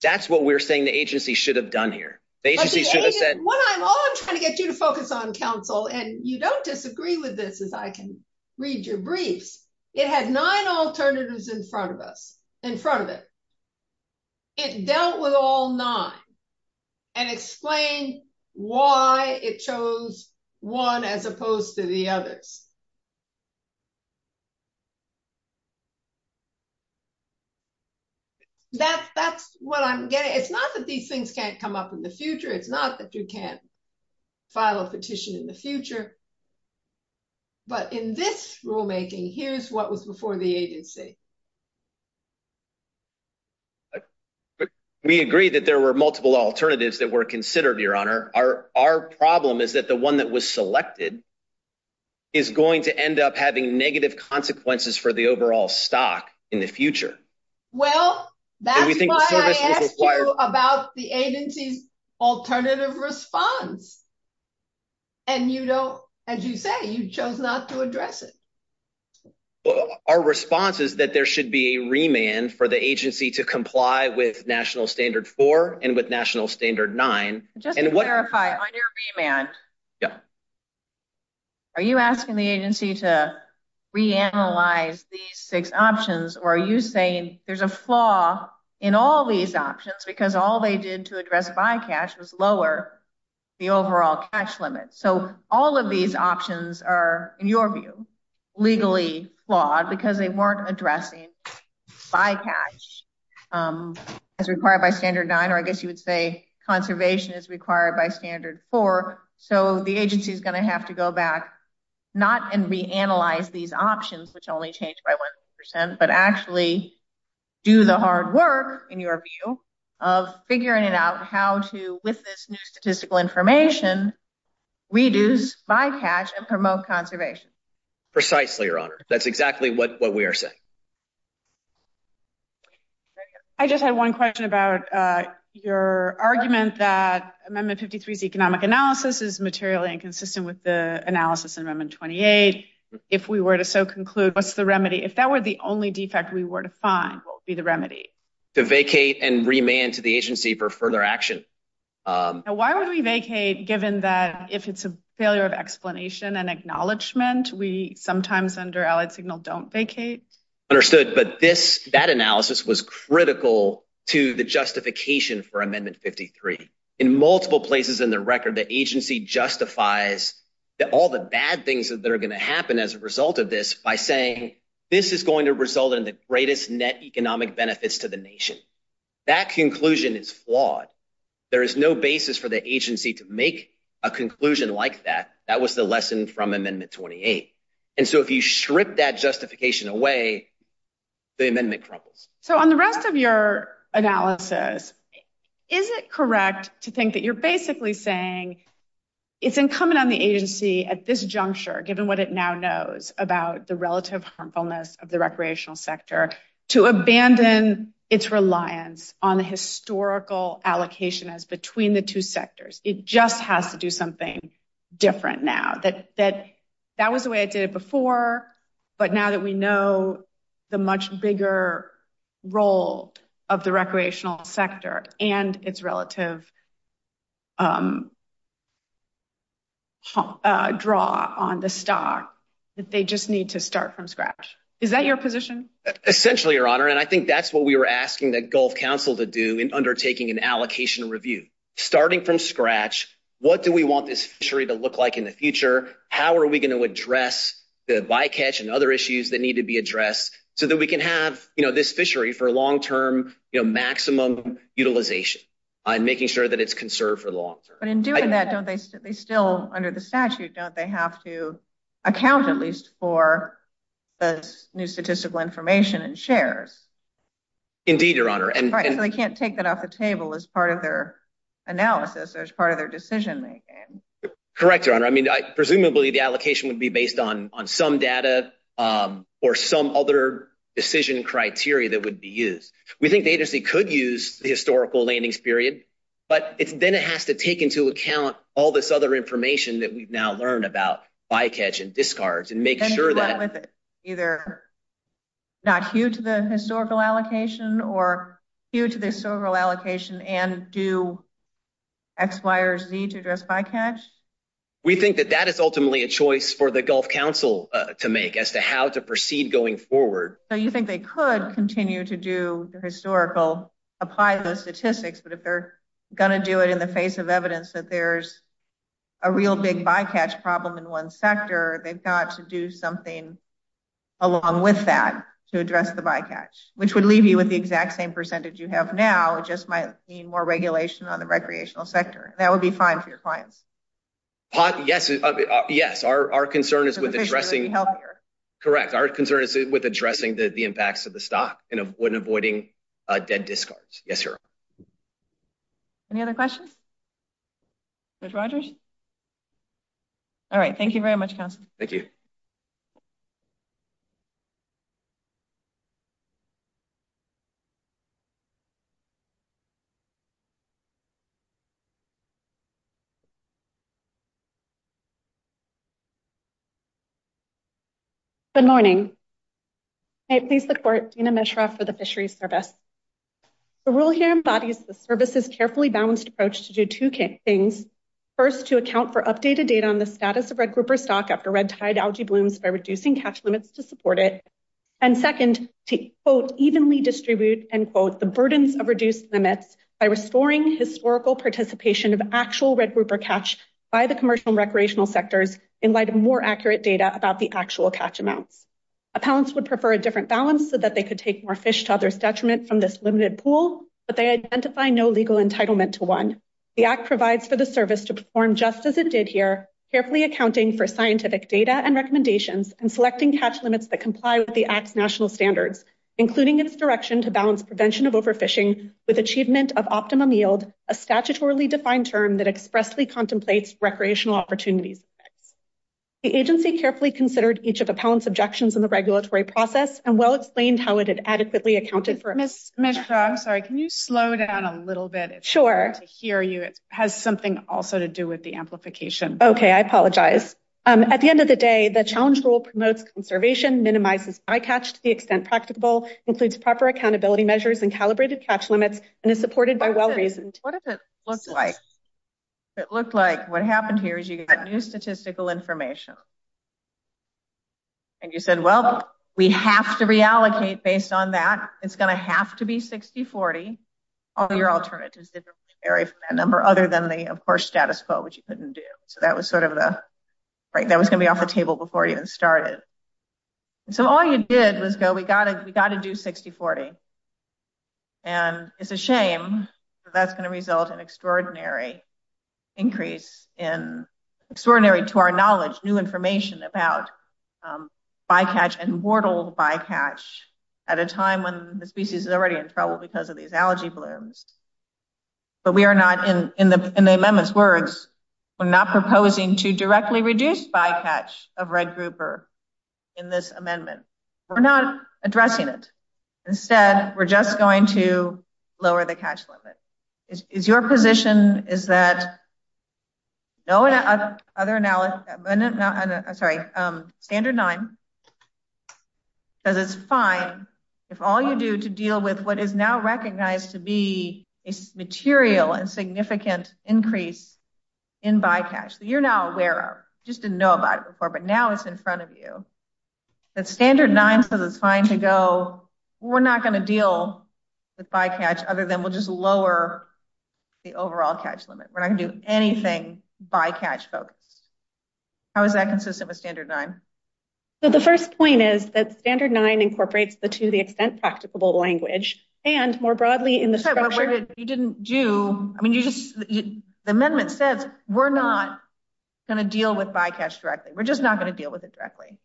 That's what we're saying the agency should have done here. The agency should have said. What I'm always trying to get you to focus on, counsel, and you don't disagree with this as I can read your brief. It had nine alternatives in front of us, in front of it. It dealt with all nine and explained why it chose one as opposed to the others. That's what I'm getting. It's not that these things can't come up in the future. It's not that you can't file a petition in the future. But in this rulemaking, here's what was before the agency. We agree that there were multiple alternatives that were considered, Your Honor. And it's going to end up having negative consequences for the overall stock in the future. Well, that's what I asked you about the agency's alternative response. And you don't, as you say, you chose not to address it. Our response is that there should be a remand for the agency to comply with National Standard 4 and with National Standard 9. Just to clarify, under remand, Are you asking the agency to reanalyze these six options, or are you saying there's a flaw in all these options because all they did to address bycatch was lower the overall catch limit? So all of these options are, in your view, legally flawed because they weren't addressing bycatch as required by Standard 9, or I guess you would say conservation is required by Standard 4. So the agency is going to have to go back, not and reanalyze these options, which only change by one percent, but actually do the hard work in your view of figuring it out, how to, with this new statistical information, reduce bycatch and promote conservation. Precisely, Your Honor. That's exactly what we are saying. I just had one question about your argument that Amendment 53's economic analysis is materially inconsistent with the analysis in Amendment 28. If we were to so conclude, what's the remedy? If that were the only defect we were to find, what would be the remedy? To vacate and remand to the agency for further action. Why would we vacate given that if it's a failure of explanation and acknowledgement, we sometimes under Allied Signal don't vacate? Understood, but that analysis was critical to the justification for Amendment 53. In multiple places in the record, the agency justifies that all the bad things that are going to happen as a result of this by saying, this is going to result in the greatest net economic benefits to the nation. That conclusion is flawed. There is no basis for the agency to make a conclusion like that. That was the lesson from Amendment 28. And so if you strip that justification away, the amendment crumbles. So on the rest of your analysis, is it correct to think that you're basically saying it's incumbent on the agency at this juncture, given what it now knows about the relative harmfulness of the recreational sector, to abandon its reliance on historical allocation as between the two sectors. It just has to do something different now that that was the way it did before. But now that we know the much bigger role of the recreational sector and its relative draw on the stock that they just need to start from scratch. Is that your position? Essentially, Your Honor. And I think that's what we were asking the Gulf Council to do in undertaking an allocation review, starting from scratch. What do we want this to look like in the future? How are we going to address the bycatch and other issues that need to be addressed so that we can have, you know, this fishery for long-term, you know, maximum utilization. I'm making sure that it's conserved for long. But in doing that, don't they, they still under the statute, don't they have to account at least for the new statistical information and shares? Indeed, Your Honor. And they can't take that off the table as part of their analysis. There's part of their decision-making. Correct, Your Honor. I mean, presumably, the allocation would be based on some data or some other decision criteria that would be used. We think they just could use the historical landings period, but then it has to take into account all this other information that we've now learned about bycatch and discards and make sure that. Either not cue to the historical allocation or cue to the historical allocation and do X, Y, or Z to address bycatch? We think that that is ultimately a choice for the Gulf Council to make as to how to proceed going forward. So you think they could continue to do the historical, apply those statistics, but if they're going to do it in the face of evidence that there's a real big bycatch problem in one sector, they've got to do something along with that to address the bycatch, which would leave you with the exact same percentage you have now. It just might mean more regulation on the recreational sector. That would be fine for your client. Yes. Our concern is with addressing the impacts of the stock and avoiding dead discards. Yes, sir. Any other questions? All right. Thank you very much. Thank you. Okay. Good morning. Please support. For the fishery service. Carefully balanced approach to do two things. First to account for updated data on the status of red grouper stock by reducing catch limits to support it. And second, both evenly distribute and quote the burdens of reduced limits by restoring historical participation of actual red grouper catch by the commercial recreational sectors. In light of more accurate data about the actual catch amount. Appellants would prefer a different balance so that they could take more fish to others detriment from this limited pool, but they identify no legal entitlement to one. The app provides for the service to perform just as it did here. The app provides for the service. Carefully accounting for scientific data and recommendations and selecting catch limits that comply with the national standards, including its direction to balance prevention of overfishing with achievement of optimum yield, a statutorily defined term that expressly contemplates recreational opportunities. The agency carefully considered each of the pounds objections in the regulatory process and well-explained how it had adequately accounted for. I'm sorry. Can you slow it down a little bit? Sure. It's hard to hear you. It has something also to do with the amplification. Okay. I apologize. Um, at the end of the day, the challenge will promote conservation, minimize the sky catch to the extent practical includes proper accountability measures and calibrated traps limits and is supported by well-raised. What does it look like? It looks like what happened here is you got new statistical information. And you said, well, we have to reallocate based on that. It's going to have to be 60, 40. All your alternatives vary from that number other than the, of course, status quo, which you couldn't do. So that was sort of a, right. That was going to be off the table before you even started. So all you did was go, we got it. We got to do 60, 40. And it's a shame. That's going to result in extraordinary. Increase in. Extraordinary to our knowledge, new information about. Um, by catch and mortal by catch. At a time when the species is already in trouble because of these technology blooms. But we are not in, in the, in the amendments words. I'm not proposing to directly reduce by catch of red grouper. In this amendment. We're not addressing it. Instead. We're just going to lower the cash limit. Is your position is that. No. Other analysis. I'm sorry. Standard nine. It's fine. If all you do to deal with what is now recognized to be a material and significant increase. In by cash. You're now there. Just didn't know about it before, but now it's in front of you. That's standard nine. So that's fine to go. We're not going to deal. The bycatch other than we'll just lower. The overall cash limit. When I do anything by catch folks. How is that consistent with standard nine? So the first point is that standard nine incorporates the, to the extent practicable language and more broadly in the structure. You didn't do. I mean, you just. The amendment says we're not. Going to deal with bycatch directly. We're just not going to deal with it directly.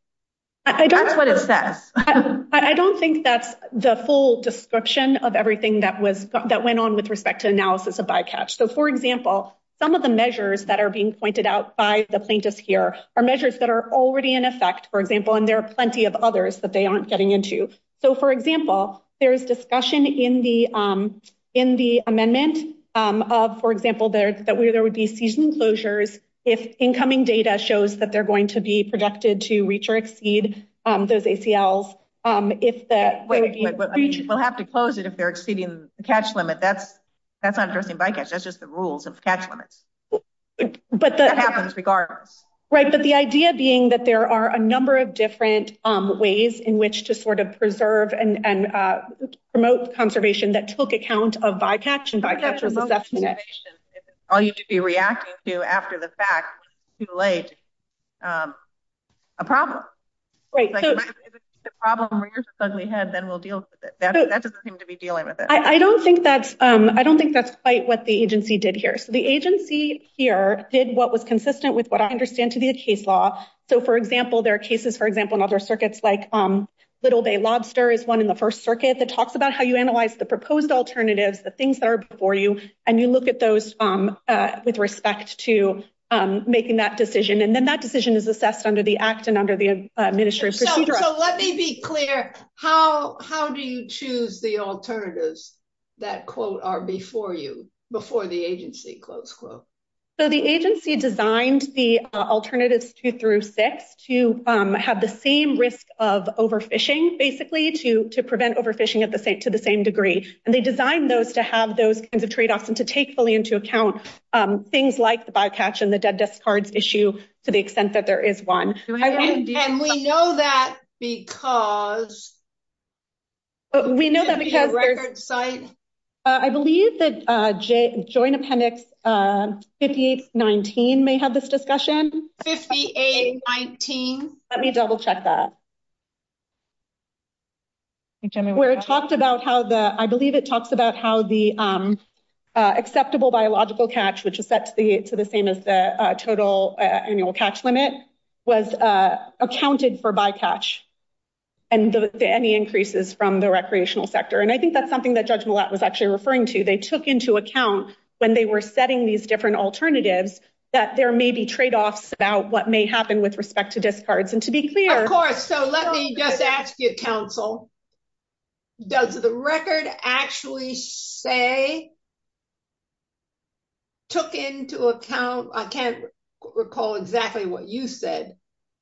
I don't think that's the full description of everything that was. That went on with respect to analysis of bycatch. So for example, some of the measures that are being pointed out by the plaintiffs here are measures that are already in effect, for example, and there are plenty of others that they aren't getting into. So for example, there's discussion in the, in the amendment. For example, there's that we, there would be season closures. If incoming data shows that they're going to be protected to reach or exceed. Those ACLs. If that. I'll have to close it. If they're exceeding the cash limit. That's not addressing bycatch. That's just the rules. But that happens regardless. Right. But the idea being that there are a number of different ways in which to sort of preserve and promote conservation that took account of bycatch and bycatch. All you should be reacting to after the fact. Too late. A problem. I don't think that's, I don't think that's quite what the agency did here. The agency here did what was consistent with what I understand to be the case law. So for example, there are cases, for example, in other circuits, like little day lobster is one in the first circuit. It talks about how you analyze the proposed alternatives, the things that are before you, and you look at those. With respect to making that decision. And then that decision is assessed under the act and under the executive order. So let me be clear. How, how do you choose the alternatives? That quote are before you before the agency close quote. So the agency designed the alternatives to, through six to have the same risk of overfishing basically to, to prevent overfishing at the same, to the same degree. And they designed those to have those kinds of trade-offs and to take fully into account. Things like the bycatch and the dead desk cards issue to the extent that there is one. And we know that because. We know that because. I believe that joint appendix 5819 may have this discussion. 5819. Let me double check that. Where it talks about how the, I believe it talks about how the acceptable biological catch, which is set to the, to the same as the total annual catch limit. Was accounted for by catch. And any increases from the recreational sector. And I think that's something that judgment was actually referring to. They took into account when they were setting these different alternatives. That there may be trade-offs about what may happen with respect to discards and to be clear. So let me get that council. Does the record actually say. I'm sorry. Does the record actually say. Took into account. I can't recall exactly what you said.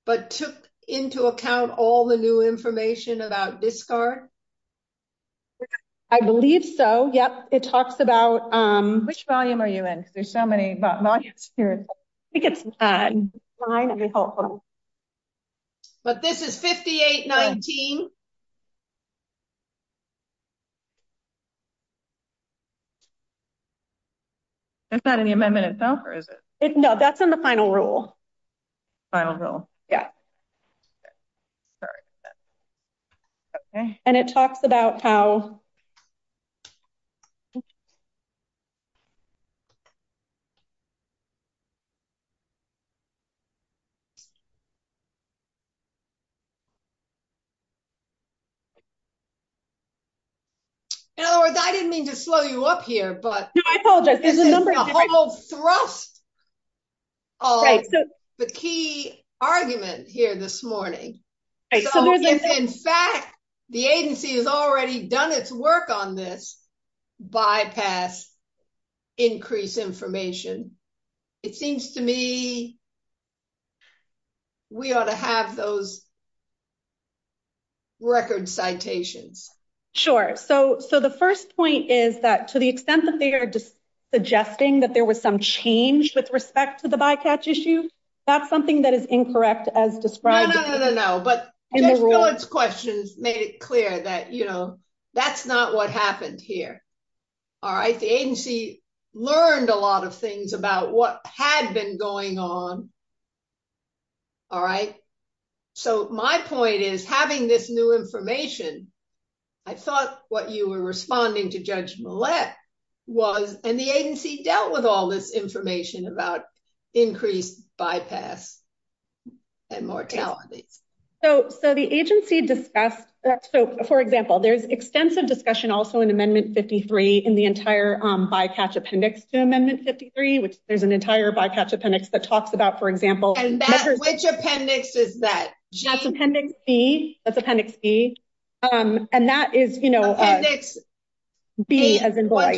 But took into account all the new information about this car. I believe so. Yep. It talks about. Which volume are you in? There's so many. I think it's. Okay. But this is 5819. It's not in the amendment itself or is it. No, that's in the final rule. I don't know. Yeah. Sorry. Okay. Okay. And it talks about how. I didn't mean to slow you up here, but. Okay. The key argument here this morning. In fact, the agency has already done its work on this. Bypass. Increase information. It seems to me. We ought to have those. Record citations. Sure. So, so the 1st point is that to the extent that they are. Suggesting that there was some change with respect to the bypass issue. That's something that is incorrect as described. No, no, no, no, no. But questions made it clear that, you know. That's not what happened here. All right, the agency. Learned a lot of things about what had been going on. All right. So, my point is having this new information. I thought what you were responding to judge. Was and the agency dealt with all this information about. Increased bypass and mortality. So, so the agency discussed. So, for example, there's extensive discussion also in amendment 53 in the entire bypass appendix to amendment 53, which is an entire bypass appendix that talks about, for example. Which appendix is that? That's appendix B. That's appendix B. And that is. B, as in boy.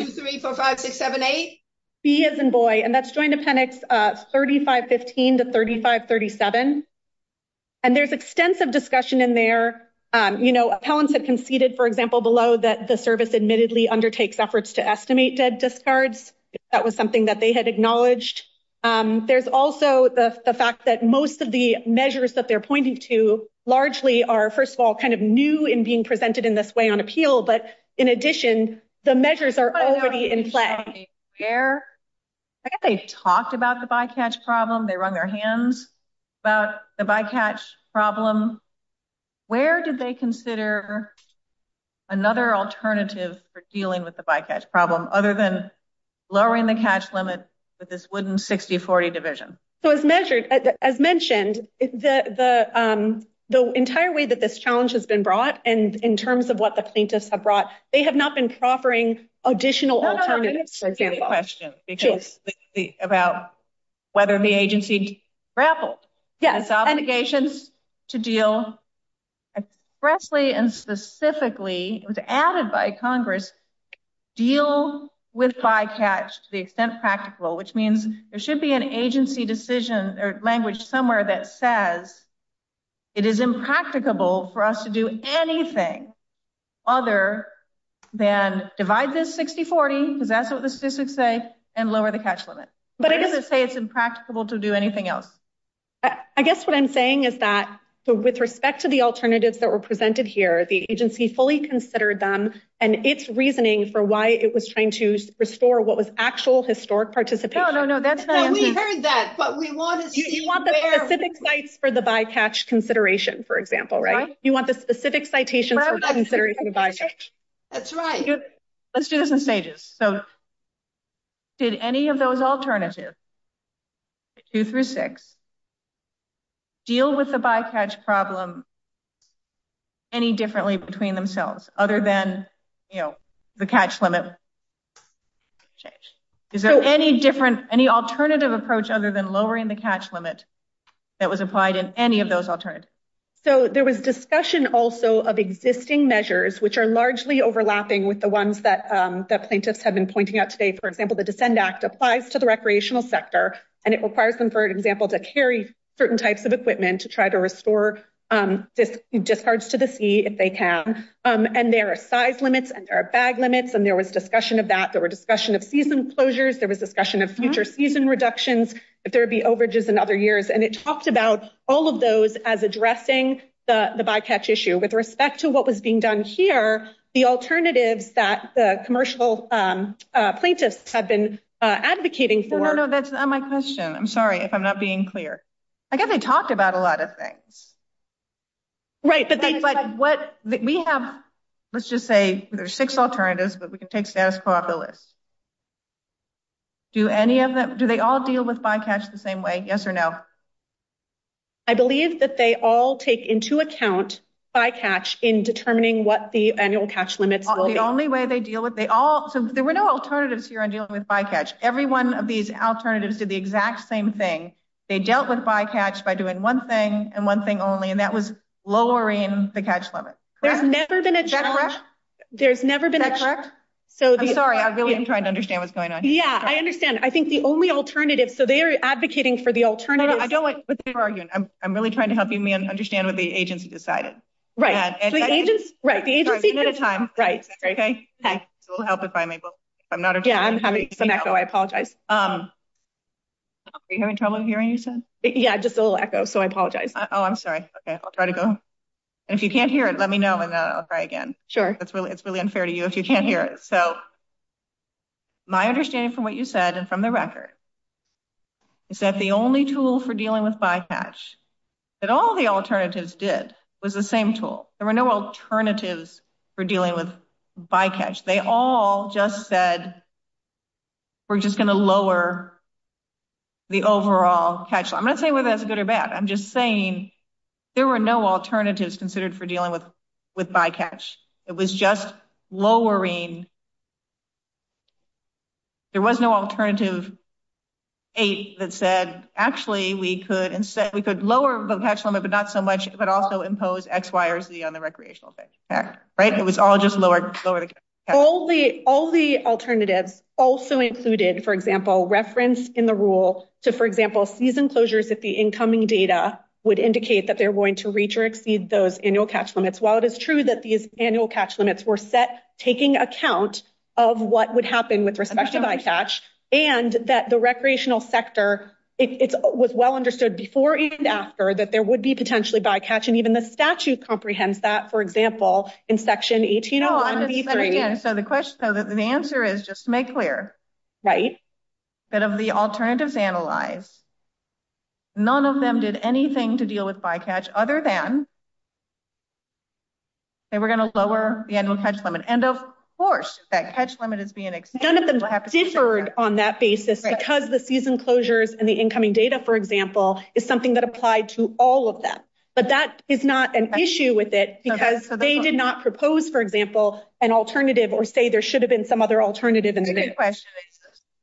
B, as in boy, and that's joined appendix 3515 to 3537. And there's extensive discussion in there. You know, appellants have conceded, for example, below that the service admittedly undertakes efforts to estimate that discard. That was something that they had acknowledged. There's also the fact that most of the measures that they're pointing to largely are, first of all, kind of new in being presented in this way on appeal. But in addition, the measures are already in place. They talked about the bycatch problem. They were on their hands about the bycatch problem. Where did they consider another alternative for dealing with the bycatch problem other than lowering the cash limit with this wooden 60-40 division? So, as mentioned, the entire way that this challenge has been brought and in terms of what the plaintiffs have brought, they have not been proffering additional alternatives. About whether the agency grapples. Yes. Indications to deal expressly and specifically was added by Congress, deal with bycatch to the extent practical, which means there should be an agency decision or language somewhere that says it is impracticable for us to do anything other than divide this 60-40, because that's what the statistics say, and lower the cash limit. But it doesn't say it's impracticable to do anything else. I guess what I'm saying is that with respect to the alternatives that were presented here, the agency fully considered them and its reasoning for why it was trying to restore what was actual historic participation. No, no, no. We heard that. You want the specific sites for the bycatch consideration, for example, right? You want the specific citations for the consideration of bycatch. That's right. Let's do this in stages. So did any of those alternatives, 2 through 6, deal with the bycatch problem any differently between themselves other than the cash limit? Is there any alternative approach other than lowering the cash limit that was applied in any of those alternatives? So there was discussion also of existing measures, which are largely overlapping with the ones that the plaintiffs have been pointing out today. For example, the DEFEND Act applies to the recreational sector, and it requires them, for example, to carry certain types of equipment to try to restore this discharge to the sea if they can. And there are size limits, and there are bag limits, and there was discussion of that. There was discussion of season closures. There was discussion of future season reductions, if there would be overages in other years. And it talked about all of those as addressing the bycatch issue. With respect to what was being done here, the alternative that the commercial plaintiffs had been advocating for – No, no, no, that's not my question. I'm sorry if I'm not being clear. I guess they talked about a lot of things. Right, but they – But what – we have, let's just say, there's six alternatives that we could take status quo off the list. Do any of them – do they all deal with bycatch the same way, yes or no? I believe that they all take into account bycatch in determining what the annual catch limit will be. The only way they deal with – they all – there were no alternatives here in dealing with bycatch. Every one of these alternatives did the exact same thing. They dealt with bycatch by doing one thing and one thing only, and that was lowering the catch limit. There's never been a – Is that correct? There's never been a – Is that correct? I'm sorry, I really am trying to understand what's going on. Yeah, I understand. I think the only alternative – so they are advocating for the alternative – No, no, I don't like your argument. I'm really trying to help you understand what the agency decided. Right. Right, the agency – We're running out of time. Right. Okay? Okay. It will help if I'm able. Yeah, I'm having some echo. I apologize. Are you having trouble hearing yourself? Yeah, just a little echo, so I apologize. Oh, I'm sorry. Okay, I'll try to go. If you can't hear it, let me know and I'll try again. Sure. It's really unfair to you if you can't hear it. So my understanding from what you said and from the record is that the only tool for dealing with bycatch that all the alternatives did was the same tool. There were no alternatives for dealing with bycatch. They all just said we're just going to lower the overall catch. I'm not saying whether that's good or bad. I'm just saying there were no alternatives considered for dealing with bycatch. It was just lowering – there was no alternative that said, actually, we could lower the catch limit, but not so much, but also impose X, Y, or Z on the recreational effect. Right? It was all just lowered. All the alternatives also included, for example, reference in the rule to, for example, season closures if the incoming data would indicate that they're going to reach or exceed those annual catch limits. While it is true that these annual catch limits were set taking account of what would happen with respect to bycatch and that the recreational sector, it was well understood before and after that there would be potentially bycatch and even the statute comprehends that, for example, in Section 1801 of the EPA. So the question – the answer is just to make clear. Right. Instead of the alternatives analyzed, none of them did anything to deal with bycatch other than they were going to lower the annual catch limit. And, of course, that catch limit is being extended. None of them differed on that basis because the season closures and the incoming data, for example, is something that applied to all of them. But that is not an issue with it because they did not propose, for example, an alternative or say there should have been some other alternative in the mid-question.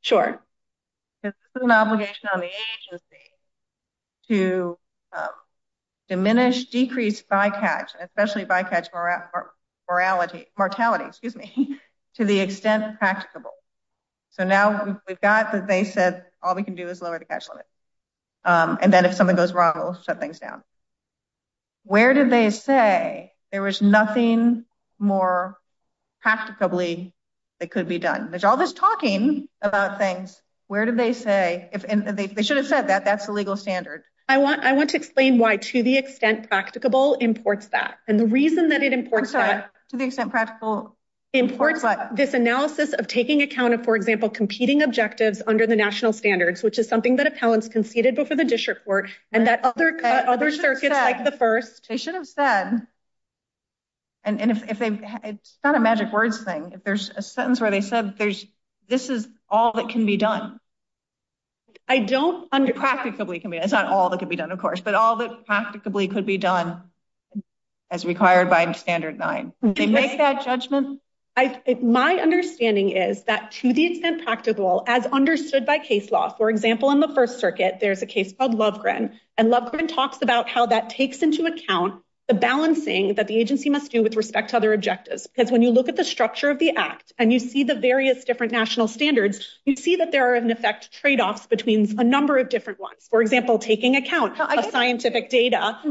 Sure. It's an obligation on the agency to diminish, decrease bycatch, especially bycatch mortality, to the extent practicable. So now we've got the basis. All we can do is lower the catch limit. And then if something goes wrong, we'll shut things down. Where did they say there was nothing more practicably that could be done? There's all this talking about things. Where did they say – they should have said that. That's the legal standard. I want to explain why to the extent practicable imports that. And the reason that it imports that – To the extent practical imports what? This analysis of taking account of, for example, competing objectives under the national standards, which is something that appellants conceded before the district court. And that other circuit likes the first. They should have said – and it's not a magic words thing. There's a sentence where they said this is all that can be done. I don't – practicably can be done. It's not all that can be done, of course. But all that practicably could be done as required by Standard 9. Did they make that judgment? My understanding is that to the extent practicable as understood by case law. For example, in the first circuit, there's a case called Lovgren. And Lovgren talks about how that takes into account the balancing that the agency must do with respect to other objectives. Because when you look at the structure of the act, and you see the various different national standards, you see that there are, in effect, tradeoffs between a number of different ones. For example, taking account of scientific data and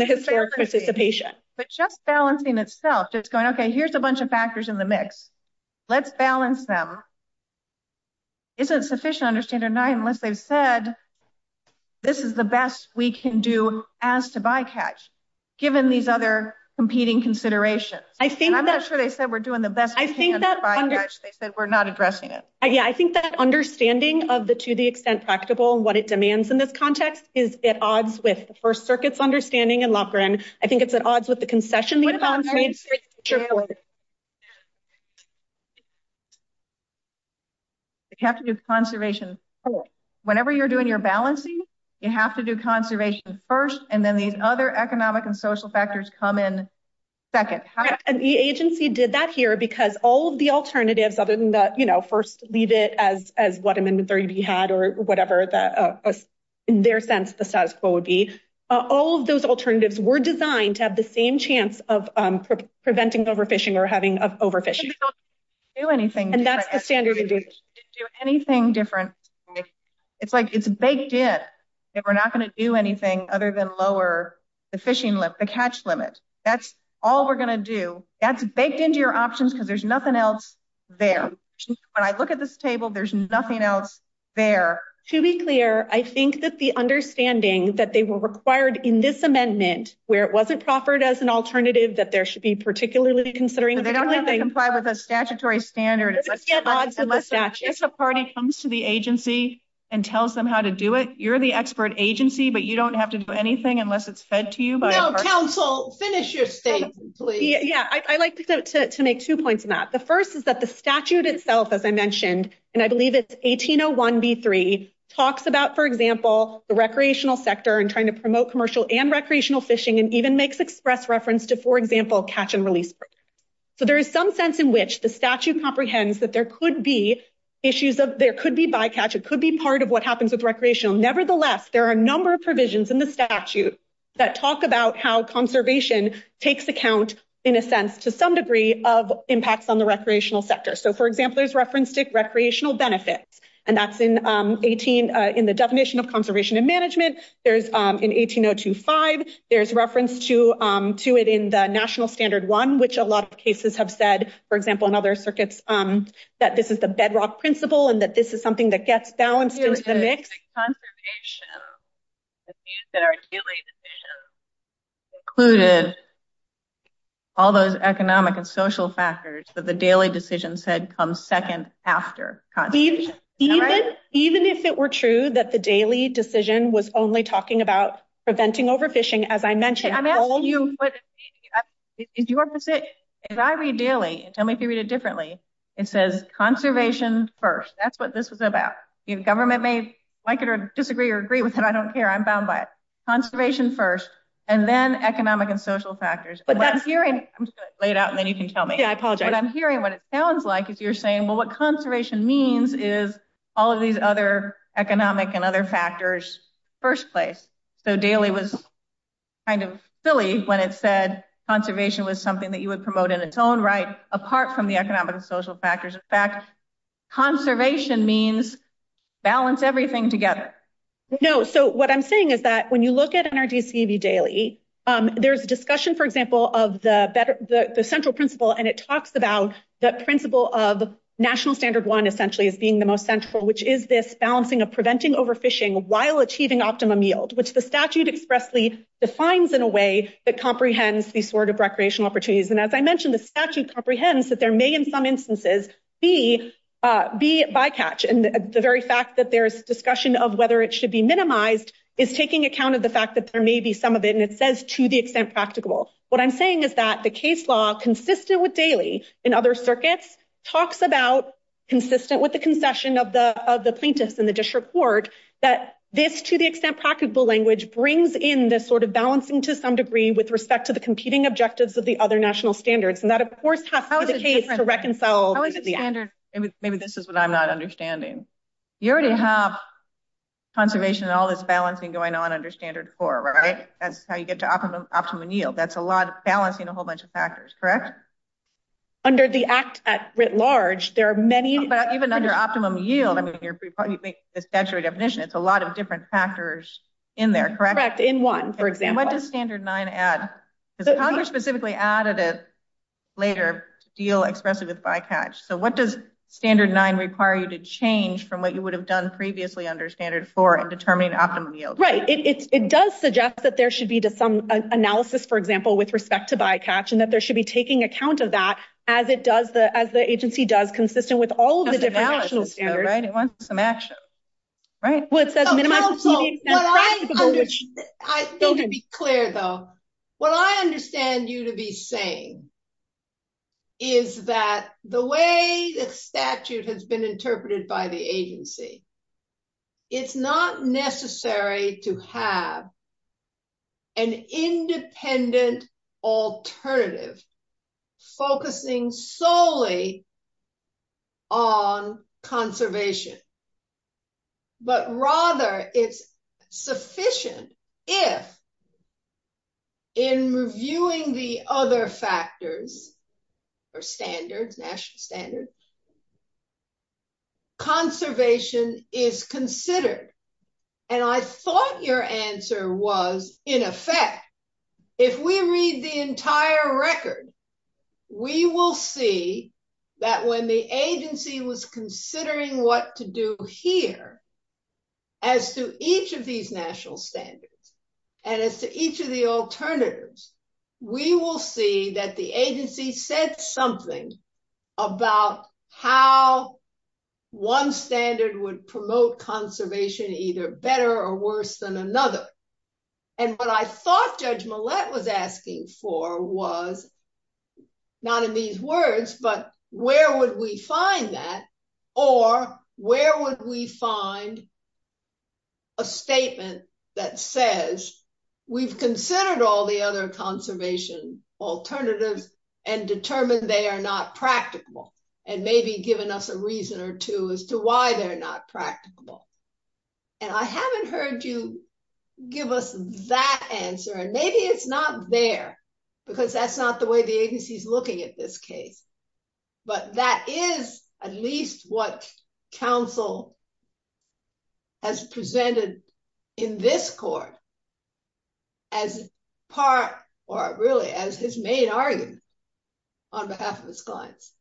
the historic participation. But just balancing itself, just going, okay, here's a bunch of factors in the mix. Let's balance them. Isn't sufficient under Standard 9 unless they've said this is the best we can do as to bycatch, given these other competing considerations. I'm not sure they said we're doing the best we can to bycatch. They said we're not addressing it. Yeah, I think that understanding of the to the extent practicable, what it demands in this context, is at odds with the first circuit's understanding in Lovgren. I think it's at odds with the concession they found. You have to do conservation first. Whenever you're doing your balancing, you have to do conservation first, and then these other economic and social factors come in second. The agency did that here because all of the alternatives other than the, you know, first leave it as what Amendment 30B had or whatever their sense of the status quo would be, all of those alternatives were designed to have the same chance of preventing overfishing or having overfishing. And that's the standard. It's like it's baked in that we're not going to do anything other than lower the fishing limit, the catch limit. That's all we're going to do. That's baked into your options because there's nothing else there. When I look at this table, there's nothing else there. To be clear, I think that the understanding that they were required in this amendment, where it wasn't proffered as an alternative that there should be particularly considering. They don't have to comply with the statutory standard. If a party comes to the agency and tells them how to do it, you're the expert agency, but you don't have to do anything unless it's said to you. No, counsel, finish your statement, please. Yeah, I'd like to make two points on that. The first is that the statute itself, as I mentioned, and I believe it's 1801B3, talks about, for example, the recreational sector and trying to promote commercial and recreational fishing and even makes express reference to, for example, catch and release. So there is some sense in which the statute comprehends that there could be issues of – there could be bycatch, it could be part of what happens with recreational. Nevertheless, there are a number of provisions in the statute that talk about how conservation takes account, in a sense, to some degree, of impacts on the recreational sector. So, for example, there's reference to recreational benefits, and that's in the definition of conservation and management. In 18025, there's reference to it in the National Standard I, which a lot of cases have said, for example, in other circuits, that this is a bedrock principle and that this is something that gets balanced. Conservation, it means that our daily decisions included all those economic and social factors, so the daily decision said comes second after conservation. Even if it were true that the daily decision was only talking about preventing overfishing, as I mentioned – I'm asking you for the – it's your position. If I read daily, tell me if you read it differently, it says conservation first. That's what this is about. Government may like it or disagree or agree with it. I don't care. I'm bound by it. Conservation first, and then economic and social factors. I'm just going to lay it out, and then you can tell me. Yeah, I apologize. And I'm hearing what it sounds like if you're saying, well, what conservation means is all of these other economic and other factors first place. So daily was kind of silly when it said conservation was something that you would promote in its own right, apart from the economic and social factors. In fact, conservation means balance everything together. No, so what I'm saying is that when you look at NRDCV daily, there's a discussion, for example, of the central principle, and it talks about that principle of national standard one essentially as being the most central, which is this balancing of preventing overfishing while achieving optimum yield, which the statute expressly defines in a way that comprehends these sort of recreational opportunities. And as I mentioned, the statute comprehends that there may, in some instances, be bycatch. And the very fact that there's discussion of whether it should be minimized is taking account of the fact that there may be some of it, and it says to the extent practicable. What I'm saying is that the case law, consistent with daily and other circuits, talks about, consistent with the concession of the plaintiffs in the district court, that this to the extent practicable language brings in this sort of balancing to some degree with respect to the competing objectives of the other national standards. And that, of course, has to be the case to reconcile. Maybe this is what I'm not understanding. You already have conservation and all this balancing going on under standard four, right? That's how you get to optimum yield. That's a lot of balancing a whole bunch of factors, correct? Under the act at writ large, there are many. Even under optimum yield, the statutory definition, it's a lot of different factors in there, correct? Correct, in one, for example. And what does standard nine add? The Congress specifically added it later to deal expressly with bytatch. So what does standard nine require you to change from what you would have done previously under standard four in determining optimum yield? Right. It does suggest that there should be some analysis, for example, with respect to bytatch, and that there should be taking account of that as it does, as the agency does, consistent with all of the different national standards. It wants some action, right? I want to be clear, though. What I understand you to be saying is that the way the statute has been interpreted by the agency, it's not necessary to have an independent alternative focusing solely on conservation. But rather, it's sufficient if, in reviewing the other factors or standards, national standards, conservation is considered. And I thought your answer was, in effect, if we read the entire record, we will see that when the agency was considering what to do here as to each of these national standards and as to each of the alternatives, we will see that the agency said something about how one standard would promote conservation either better or worse than another. And what I thought Judge Millett was asking for was, not in these words, but where would we find that or where would we find a statement that says, we've considered all the other conservation alternatives and determined they are not practicable and maybe given us a reason or two as to why they're not practicable. And I haven't heard you give us that answer. And maybe it's not there because that's not the way the agency is looking at this case. But that is at least what counsel has presented in this court as part or really as his main argument on behalf of his clients.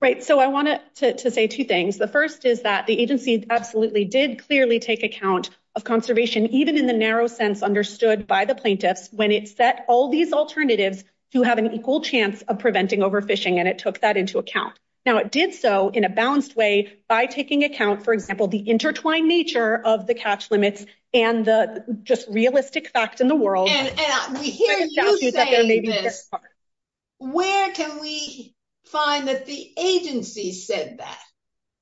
Right. So I wanted to say two things. The first is that the agencies absolutely did clearly take account of conservation, even in the narrow sense understood by the plaintiffs when it set all these alternatives to have an equal chance of preventing overfishing. And it took that into account. Now, it did so in a balanced way by taking account, for example, the intertwined nature of the catch limits and the just realistic facts in the world. Where can we find that the agency said that?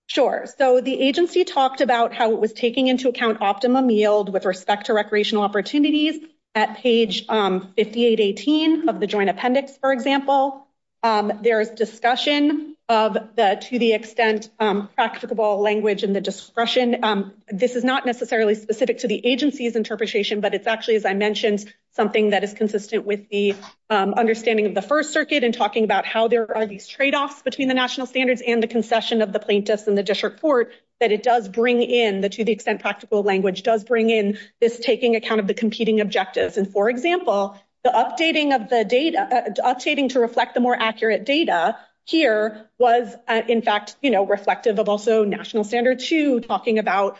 Sure. So the agency talked about how it was taking into account optimum yield with respect to recreational opportunities. At page 5818 of the joint appendix, for example, there is discussion of that to the extent practicable language and the discretion. This is not necessarily specific to the agency's interpretation, but it's actually, as I mentioned, something that is consistent with the understanding of the first circuit and talking about how there are these tradeoffs between the national standards and the concession of the plaintiffs in the district court that it does bring in the to the extent practical language does bring in this taking account of the competing objectives. And, for example, the updating of the data updating to reflect the more accurate data here was, in fact, reflective of also national standards to talking about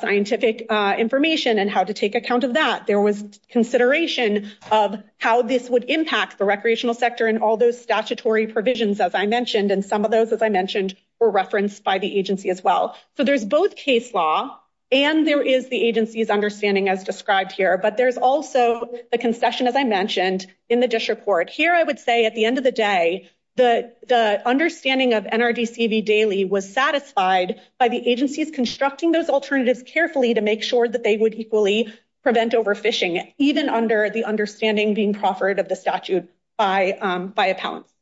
scientific information and how to take account of that. There was consideration of how this would impact the recreational sector and all those statutory provisions, as I mentioned, and some of those, as I mentioned, were referenced by the agency as well. So there's both case law and there is the agency's understanding as described here. But there's also the concession, as I mentioned, in the district court. Here, I would say at the end of the day, the understanding of NRDCV daily was satisfied by the agency's constructing those alternatives carefully to make sure that they would equally prevent overfishing, even under the understanding being proffered of the statute by appellants.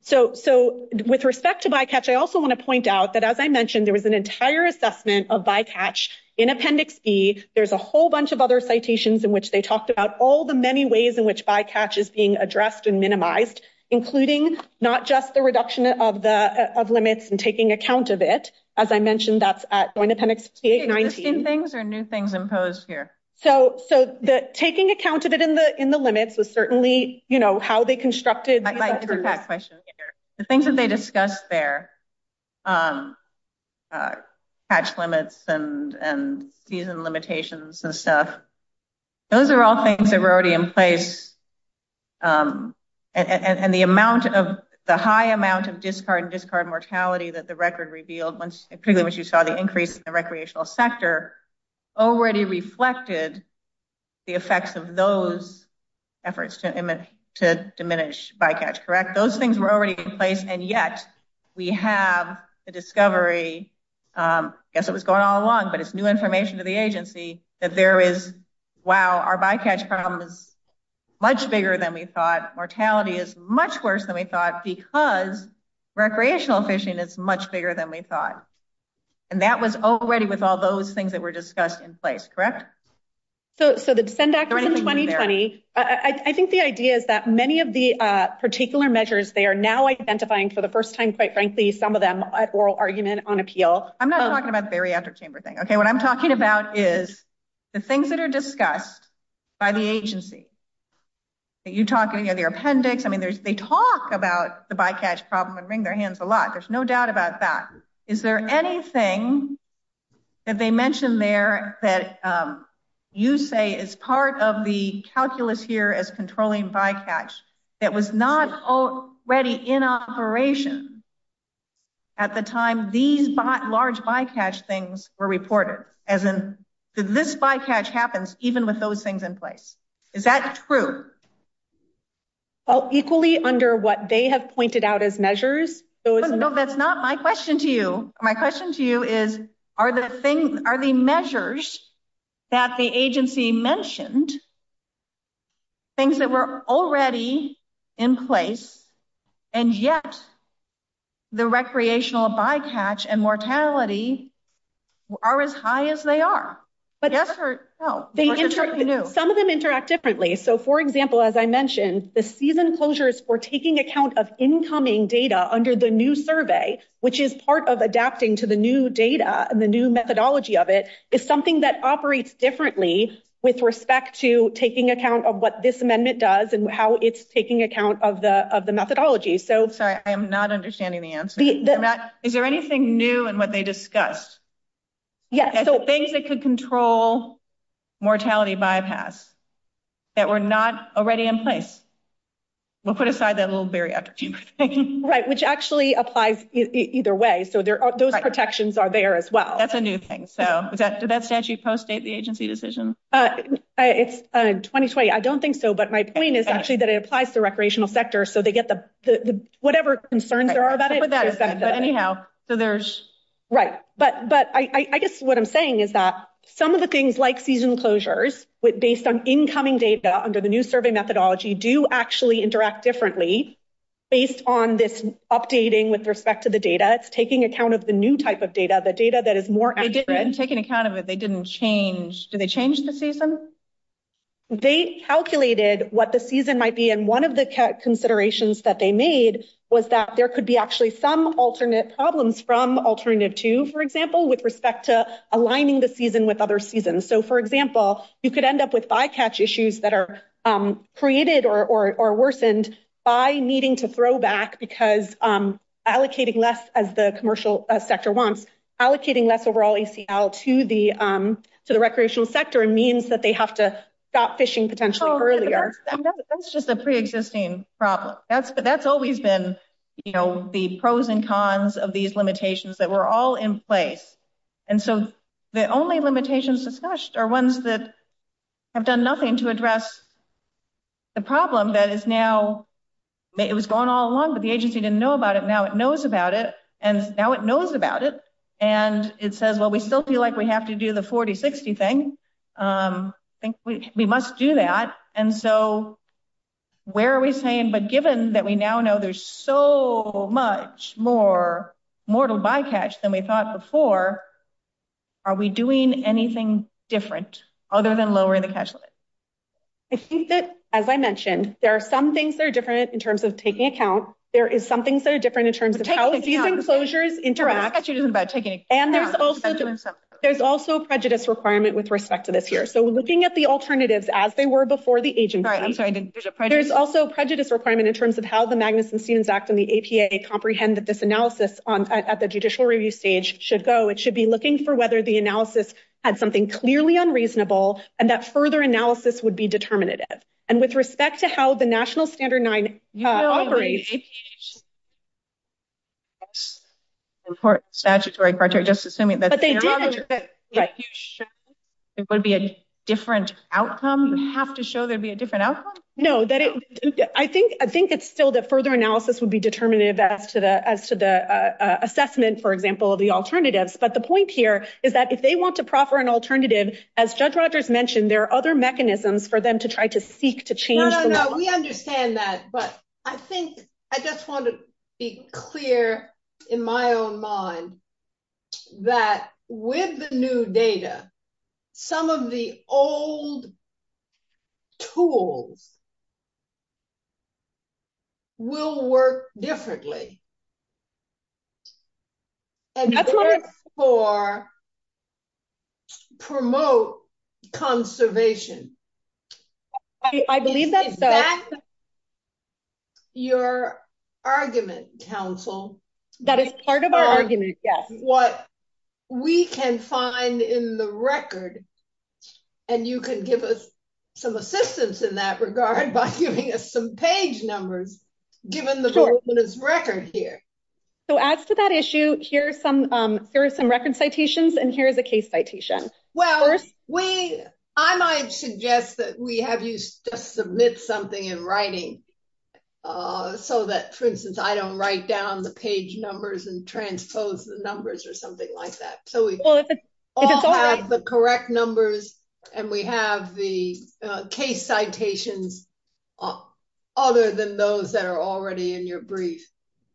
So with respect to bycatch, I also want to point out that, as I mentioned, there was an entire assessment of bycatch in Appendix B. There's a whole bunch of other citations in which they talked about all the many ways in which bycatch is being addressed and minimized, including not just the reduction of limits and taking account of it. As I mentioned, that's at the end of Appendix B-19. Are there new things imposed here? So taking account of it in the limits was certainly, you know, how they constructed. I like that question. The things that they discussed there, catch limits and season limitations and stuff, those are all things that were already in place. And the high amount of discard and discard mortality that the record revealed, particularly when you saw the increase in the recreational sector, already reflected the effects of those efforts to diminish bycatch, correct? Those things were already in place, and yet we have the discovery, I guess it was going on long, but it's new information to the agency that there is, wow, our bycatch problem is much bigger than we thought. Mortality is much worse than we thought because recreational fishing is much bigger than we thought. And that was already with all those things that were discussed in place, correct? So the Defend Act from 2020, I think the idea is that many of the particular measures, they are now identifying for the first time, quite frankly, some of them, an oral argument on appeal. I'm not talking about the bariatric chamber thing, okay? What I'm talking about is the things that are discussed by the agency. You're talking of your appendix. I mean, they talk about the bycatch problem and wring their hands a lot. There's no doubt about that. Is there anything that they mention there that you say is part of the calculus here as controlling bycatch that was not already in operation at the time these large bycatch things were reported, as in this bycatch happens even with those things in place? Is that true? Equally under what they have pointed out as measures. No, that's not my question to you. My question to you is are the measures that the agency mentioned things that were already in place and yet the recreational bycatch and mortality are as high as they are? Yes or no? Some of them interact differently. So, for example, as I mentioned, the season closures were taking account of incoming data under the new survey, which is part of adapting to the new data and the new methodology of it. It's something that operates differently with respect to taking account of what this amendment does and how it's taking account of the methodology. Sorry, I'm not understanding the answer. Is there anything new in what they discussed? Yes. Things that could control mortality bypass that were not already in place. We'll put aside that little barrier. Thank you. Right, which actually applies either way. So those protections are there as well. That's a new thing. Does that statute postdate the agency decisions? It's 2020. I don't think so, but my point is actually that it applies to the recreational sector, so they get whatever concerns there are about it. But anyhow, so there's... Right, but I guess what I'm saying is that some of the things like season closures, based on incoming data under the new survey methodology, do actually interact differently based on this updating with respect to the data. It's taking account of the new type of data, the data that is more accurate. And taking account of it, they didn't change. Did they change the season? They calculated what the season might be, and one of the considerations that they made was that there could be actually some alternate problems from Alternative 2, for example, with respect to aligning the season with other seasons. So, for example, you could end up with bycatch issues that are created or worsened by needing to throw back because allocating less, as the commercial sector wants, allocating less overall ACL to the recreational sector means that they have to stop fishing potentially earlier. I know, but that's just a pre-existing problem. That's always been, you know, the pros and cons of these limitations that were all in place. And so the only limitations discussed are ones that have done nothing to address the problem that is now... It was going all along, but the agency didn't know about it, and now it knows about it, and it says, well, we still feel like we have to do the 40-60 thing. I think we must do that. And so where are we saying, but given that we now know there's so much more to bycatch than we thought before, are we doing anything different other than lowering the catch limit? I think that, as I mentioned, there are some things that are different in terms of taking account. There is some things that are different in terms of how these enclosures interact. And there's also prejudice requirement with respect to this here. So looking at the alternatives as they were before the agency, there's also prejudice requirement in terms of how the Magnuson-Stevens Act and the APA comprehend that this analysis at the judicial review stage should go. It should be looking for whether the analysis had something clearly unreasonable and that further analysis would be determinative. And with respect to how the National Standard 9 operates... Statutory criteria, just assuming that... It would be a different outcome? You have to show there'd be a different outcome? No, I think it's still that further analysis would be determinative as to the assessment, for example, of the alternatives. But the point here is that if they want to proffer an alternative, as Judge Rogers mentioned, there are other mechanisms for them to try to seek to change... No, no, no. We understand that. But I think... I just want to be clear in my own mind that with the new data, some of the old tools will work differently and work to promote conservation. I believe that's... That's your argument, counsel. That is part of our argument, yes. What we can find in the record, and you can give us some assistance in that regard by giving us some page numbers, given the record here. So as to that issue, here are some record citations and here are the case citations. Well, I might suggest that we have you submit something in writing so that, for instance, I don't write down the page numbers and transpose the numbers or something like that. So we all have the correct numbers and we have the case citations other than those that are already in your brief.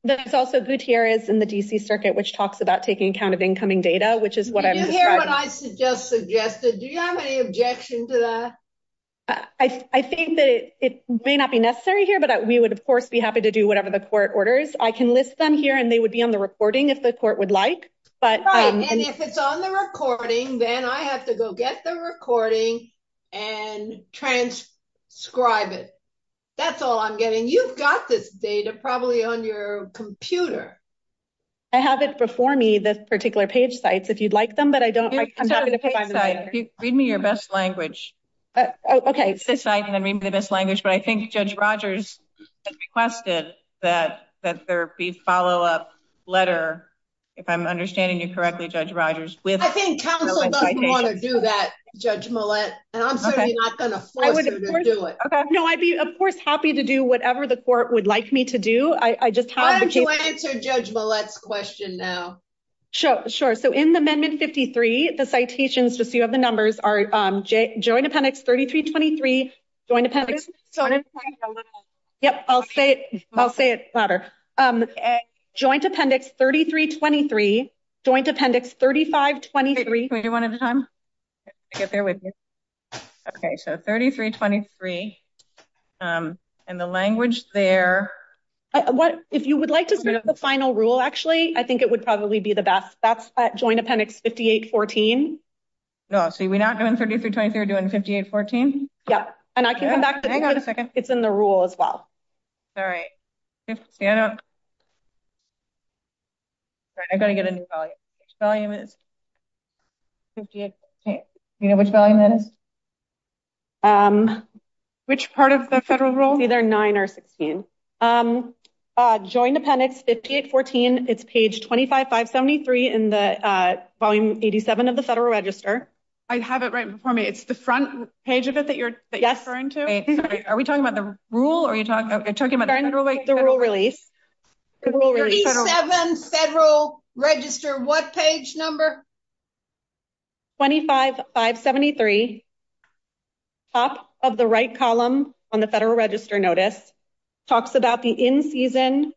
There's also Gutierrez in the D.C. Circuit, which talks about taking account of incoming data, which is what I'm... You hear what I just suggested. Do you have any objection to that? I think that it may not be necessary here, but we would, of course, be happy to do whatever the court orders. I can list them here and they would be on the reporting if the court would like. Right, and if it's on the recording, then I have to go get the recording and transcribe it. That's all I'm getting. You've got this data probably on your computer. I have it before me, this particular page site. If you'd like them, but I don't... Read me your best language. Okay. Read me the best language, but I think Judge Rogers requested that there be a follow-up letter, if I'm understanding you correctly, Judge Rogers, with... I think counsel doesn't want to do that, Judge Millett, and I'm certainly not going to force her to do it. Okay. No, I'd be, of course, happy to do whatever the court would like me to do. I just have... Why don't you answer Judge Millett's question now? Sure, sure. So, in the Amendment 53, the citations, just so you have the numbers, are Joint Appendix 3323, Joint Appendix... Joint Appendix 11. Yep, I'll say it louder. Joint Appendix 3323, Joint Appendix 3523... Wait, can we do one at a time? I'll get there with you. Okay, so 3323, and the language there... What... If you would like to see the final rule, actually, I think it would probably be the best. That's Joint Appendix 5814. Oh, so we're not doing 3323, we're doing 5814? Yep, and I can come back to that. Hang on a second. It's in the rule as well. All right. Stand up. Sorry, I've got to get a new volume. Which volume is it? 5814. Tina, which volume is it? Which part of the federal rule? These are 9 or 16. Joint Appendix 5814, it's page 25573 in Volume 87 of the Federal Register. I have it right before me. It's the front page of it that you're referring to? Yes. Are we talking about the rule, or are you talking about... The rule release. 37 Federal Register. What page number? 25573, top of the right column on the Federal Register Notice, talks about the in-season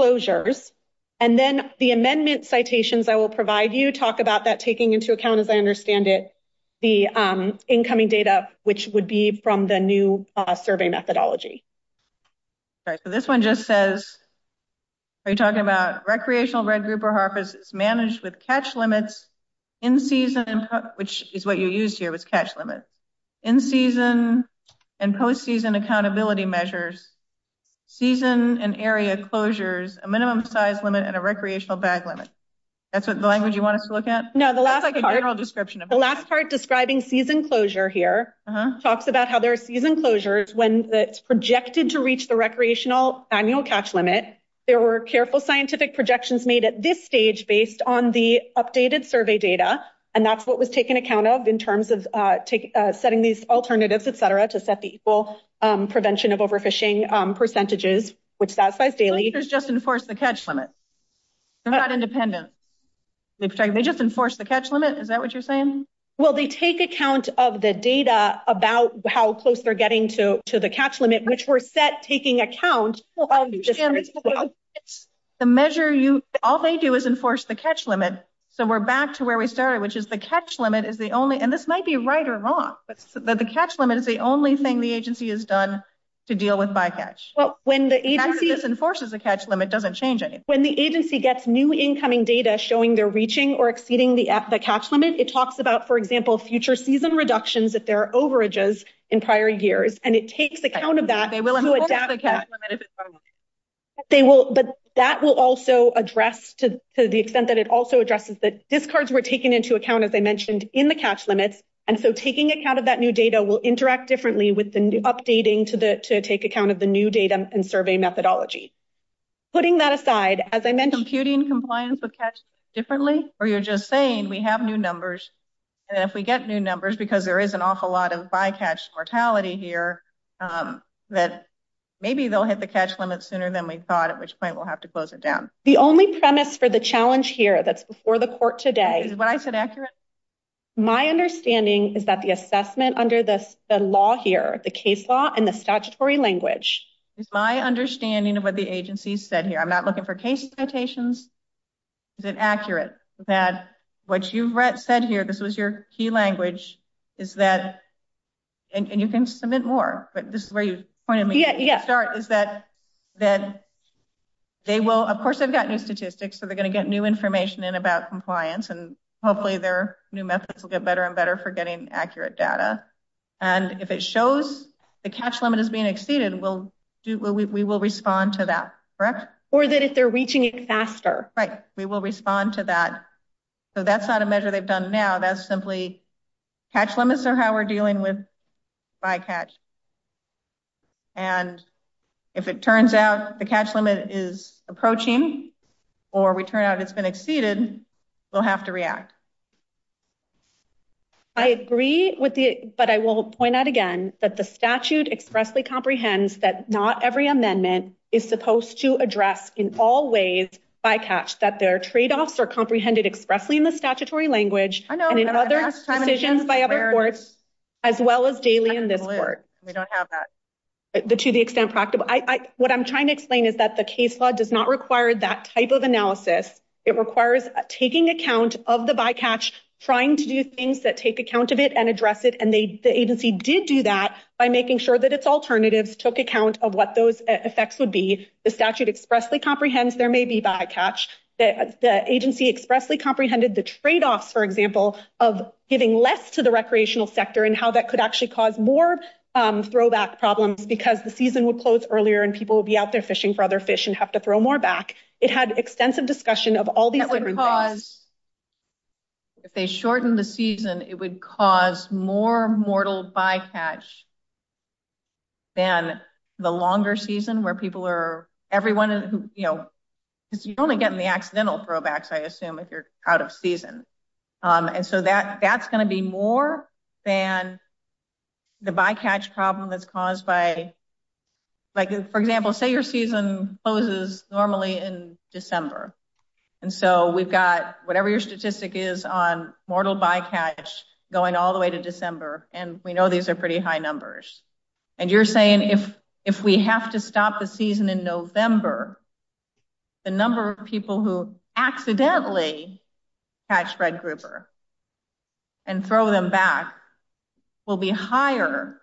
closures, and then the amendment citations I will provide you to talk about that, taking into account, as I understand it, the incoming data, which would be from the new survey methodology. All right. So, this one just says, are you talking about recreational red grouper harbors managed with catch limits, in-season, which is what you used here with catch limits, in-season and post-season accountability measures, season and area closures, a minimum size limit, and a recreational bag limit. That's the language you wanted to look at? No, the last part... It's like a general description. The last part describing season closure here talks about how there are season closures when it's projected to reach the recreational annual catch limit. There were careful scientific projections made at this stage based on the updated survey data, and that's what was taken account of in terms of setting these alternatives, et cetera, to set the equal prevention of overfishing percentages, which satisfies Daley. Closures just enforce the catch limit. They're not independent. Is that what you're saying? Well, they take account of the data about how close they're getting to the catch limit, which were set taking account... The measure you... All they do is enforce the catch limit. So, we're back to where we started, which is the catch limit is the only... And this might be right or wrong, but the catch limit is the only thing the agency has done to deal with bycatch. Well, when the agency... As this enforces the catch limit, it doesn't change anything. When the agency gets new incoming data showing they're reaching or exceeding the catch limit, it talks about, for example, future season reductions if there are overages in prior years, and it takes account of that... They will enforce the catch limit if it's... But that will also address to the extent that it also addresses that discards were taken into account, as I mentioned, in the catch limit, and so taking account of that new data will interact differently with the updating to take account of the new data and survey methodology. Putting that aside, as I mentioned... If we get new numbers, because there is an awful lot of bycatch mortality here, that maybe they'll hit the catch limit sooner than we thought, at which point we'll have to close it down. The only premise for the challenge here that's before the court today... Is what I said accurate? My understanding is that the assessment under the law here, the case law and the statutory language... It's my understanding of what the agency said here. I'm not looking for case notations. Is it accurate? That what you said here, this was your key language, is that... And you can submit more, but this is where you pointed me to start, is that they will... Of course, they've got new statistics, so they're going to get new information in about compliance, and hopefully their new methods will get better and better for getting accurate data. And if it shows the catch limit is being exceeded, we will respond to that. Correct? Or that if they're reaching it faster. Right. We will respond to that. So that's not a measure they've done now, that's simply catch limits are how we're dealing with bycatch. And if it turns out the catch limit is approaching, or we turn out it's been exceeded, we'll have to react. I agree with the... But I will point out again that the statute expressly comprehends that not every amendment is supposed to address in all ways bycatch, that their trade-offs are comprehended expressly in the statutory language and in other conditions by other courts, as well as daily in this court. We don't have that. To the extent practical. What I'm trying to explain is that the case law does not require that type of analysis. It requires taking account of the bycatch, trying to do things that take account of it and address it, and the agency did do that by making sure that its alternatives took account of what those effects would be. The statute expressly comprehends there may be bycatch. The agency expressly comprehended the trade-off, for example, of giving less to the recreational sector and how that could actually cause more throwback problems because the season would close earlier and people would be out there fishing for other fish and have to throw more back. It had extensive discussion of all the... If they shorten the season, it would cause more mortal bycatch than the longer season where people are... Everyone... You only get the accidental throwbacks, I assume, if you're out of season. That's going to be more than the bycatch problem that's caused by... For example, say your season closes normally in December. We've got whatever your statistic is on mortal bycatch going all the way to December, and we know these are pretty high numbers. You're saying if we have to stop the season in November, the number of people who accidentally catch red grouper and throw them back will be higher,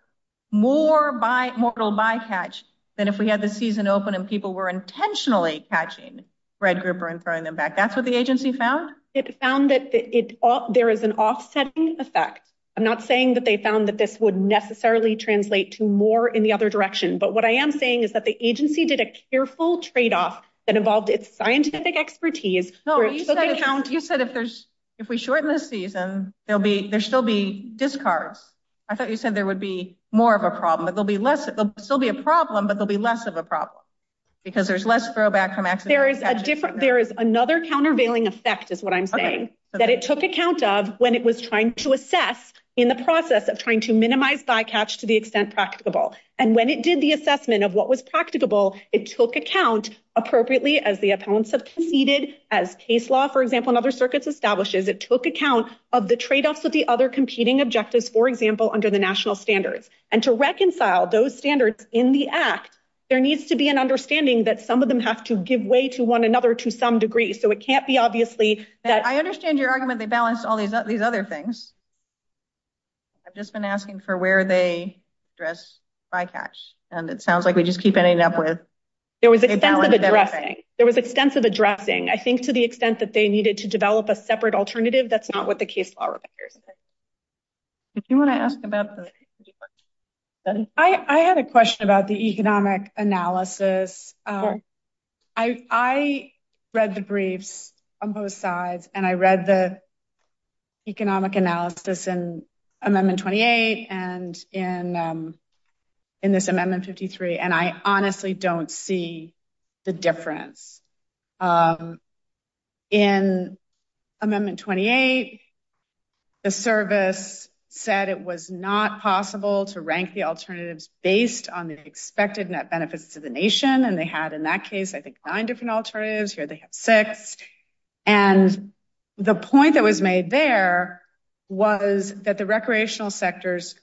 more mortal bycatch than if we had to stop the season in December. That's what the agency found? It found that there is an offsetting effect. I'm not saying that they found that this would necessarily translate to more in the other direction, but what I am saying is that the agency did a careful trade-off that involved its scientific expertise... No, you said if we shorten the season, there'll still be discards. I thought you said there would be more of a problem. There'll still be a problem, but there'll be less of a problem because there's less throwback... There is another countervailing effect is what I'm saying, that it took account of when it was trying to assess in the process of trying to minimize bycatch to the extent practicable. And when it did the assessment of what was practicable, it took account appropriately as the appellants have competed as case law, for example, and other circuits establishes, it took account of the trade-offs of the other competing objectives, for example, under the national standards. And to reconcile those standards in the act, there needs to be an understanding that some of them have to give way to one another to some degree, so it can't be obviously that... I understand your argument they balanced all these other things. I've just been asking for where they address bycatch, and it sounds like we just keep ending up with... There was extensive addressing. There was extensive addressing. I think to the extent that they needed to develop a separate alternative, that's not what the case law requires. Did you want to ask about the... I had a question about the economic analysis. I read the briefs on both sides, and I read the economic analysis in Amendment 28 and in this Amendment 53, and I honestly don't see the difference. In Amendment 28, the service said it was not possible to rank the alternatives based on the expected net benefits to the nation, and they had, in that case, I think nine different alternatives. Here they have six. And the point that was made there was that the recreational sector's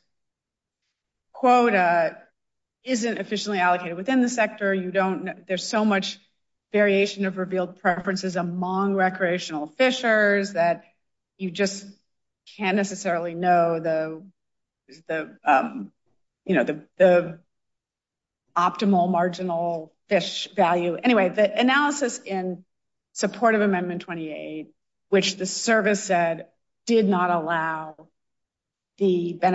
quota isn't efficiently allocated within the sector. There's so much variation of revealed preferences among recreational fishers that you just can't necessarily know the optimal marginal fish value. Anyway, the analysis in support of Amendment 28, which the service said did not allow the the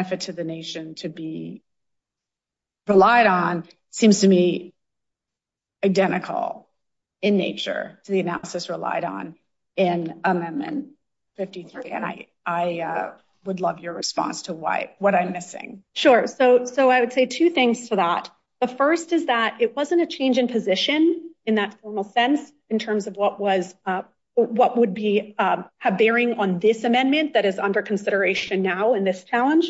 analysis relied on in Amendment 53, and I would love your response to what I'm missing. Sure. So I would say two things to that. The first is that it wasn't a change in position in that formal sense in terms of what would be a bearing on this amendment that is under consideration now in this challenge,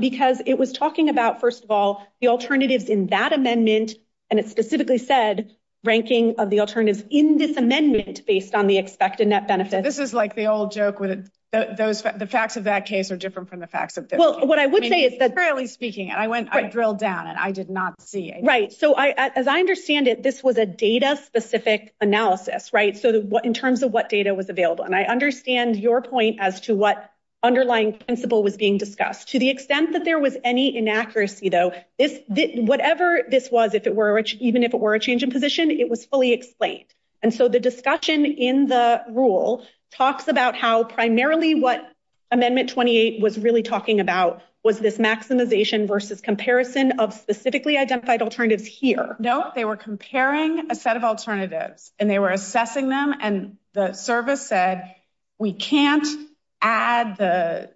because it was talking about, first of all, the alternatives in that amendment, and it specifically said ranking of the alternatives in this amendment based on the expected net benefits. This is like the old joke. The facts of that case are different from the facts of this. Well, what I would say is that... Currently speaking, I drilled down, and I did not see it. Right. So as I understand it, this was a data-specific analysis, right, in terms of what data was available. And I understand your point as to what underlying principle was being discussed. To the extent that there was any inaccuracy, though, whatever this was, even if it were a change in position, it was fully explained. And so the discussion in the rule talks about how primarily what Amendment 28 was really talking about was this maximization versus comparison of specifically identified alternatives here. No, they were comparing a set of alternatives, and they were assessing them, and the service said we can't add the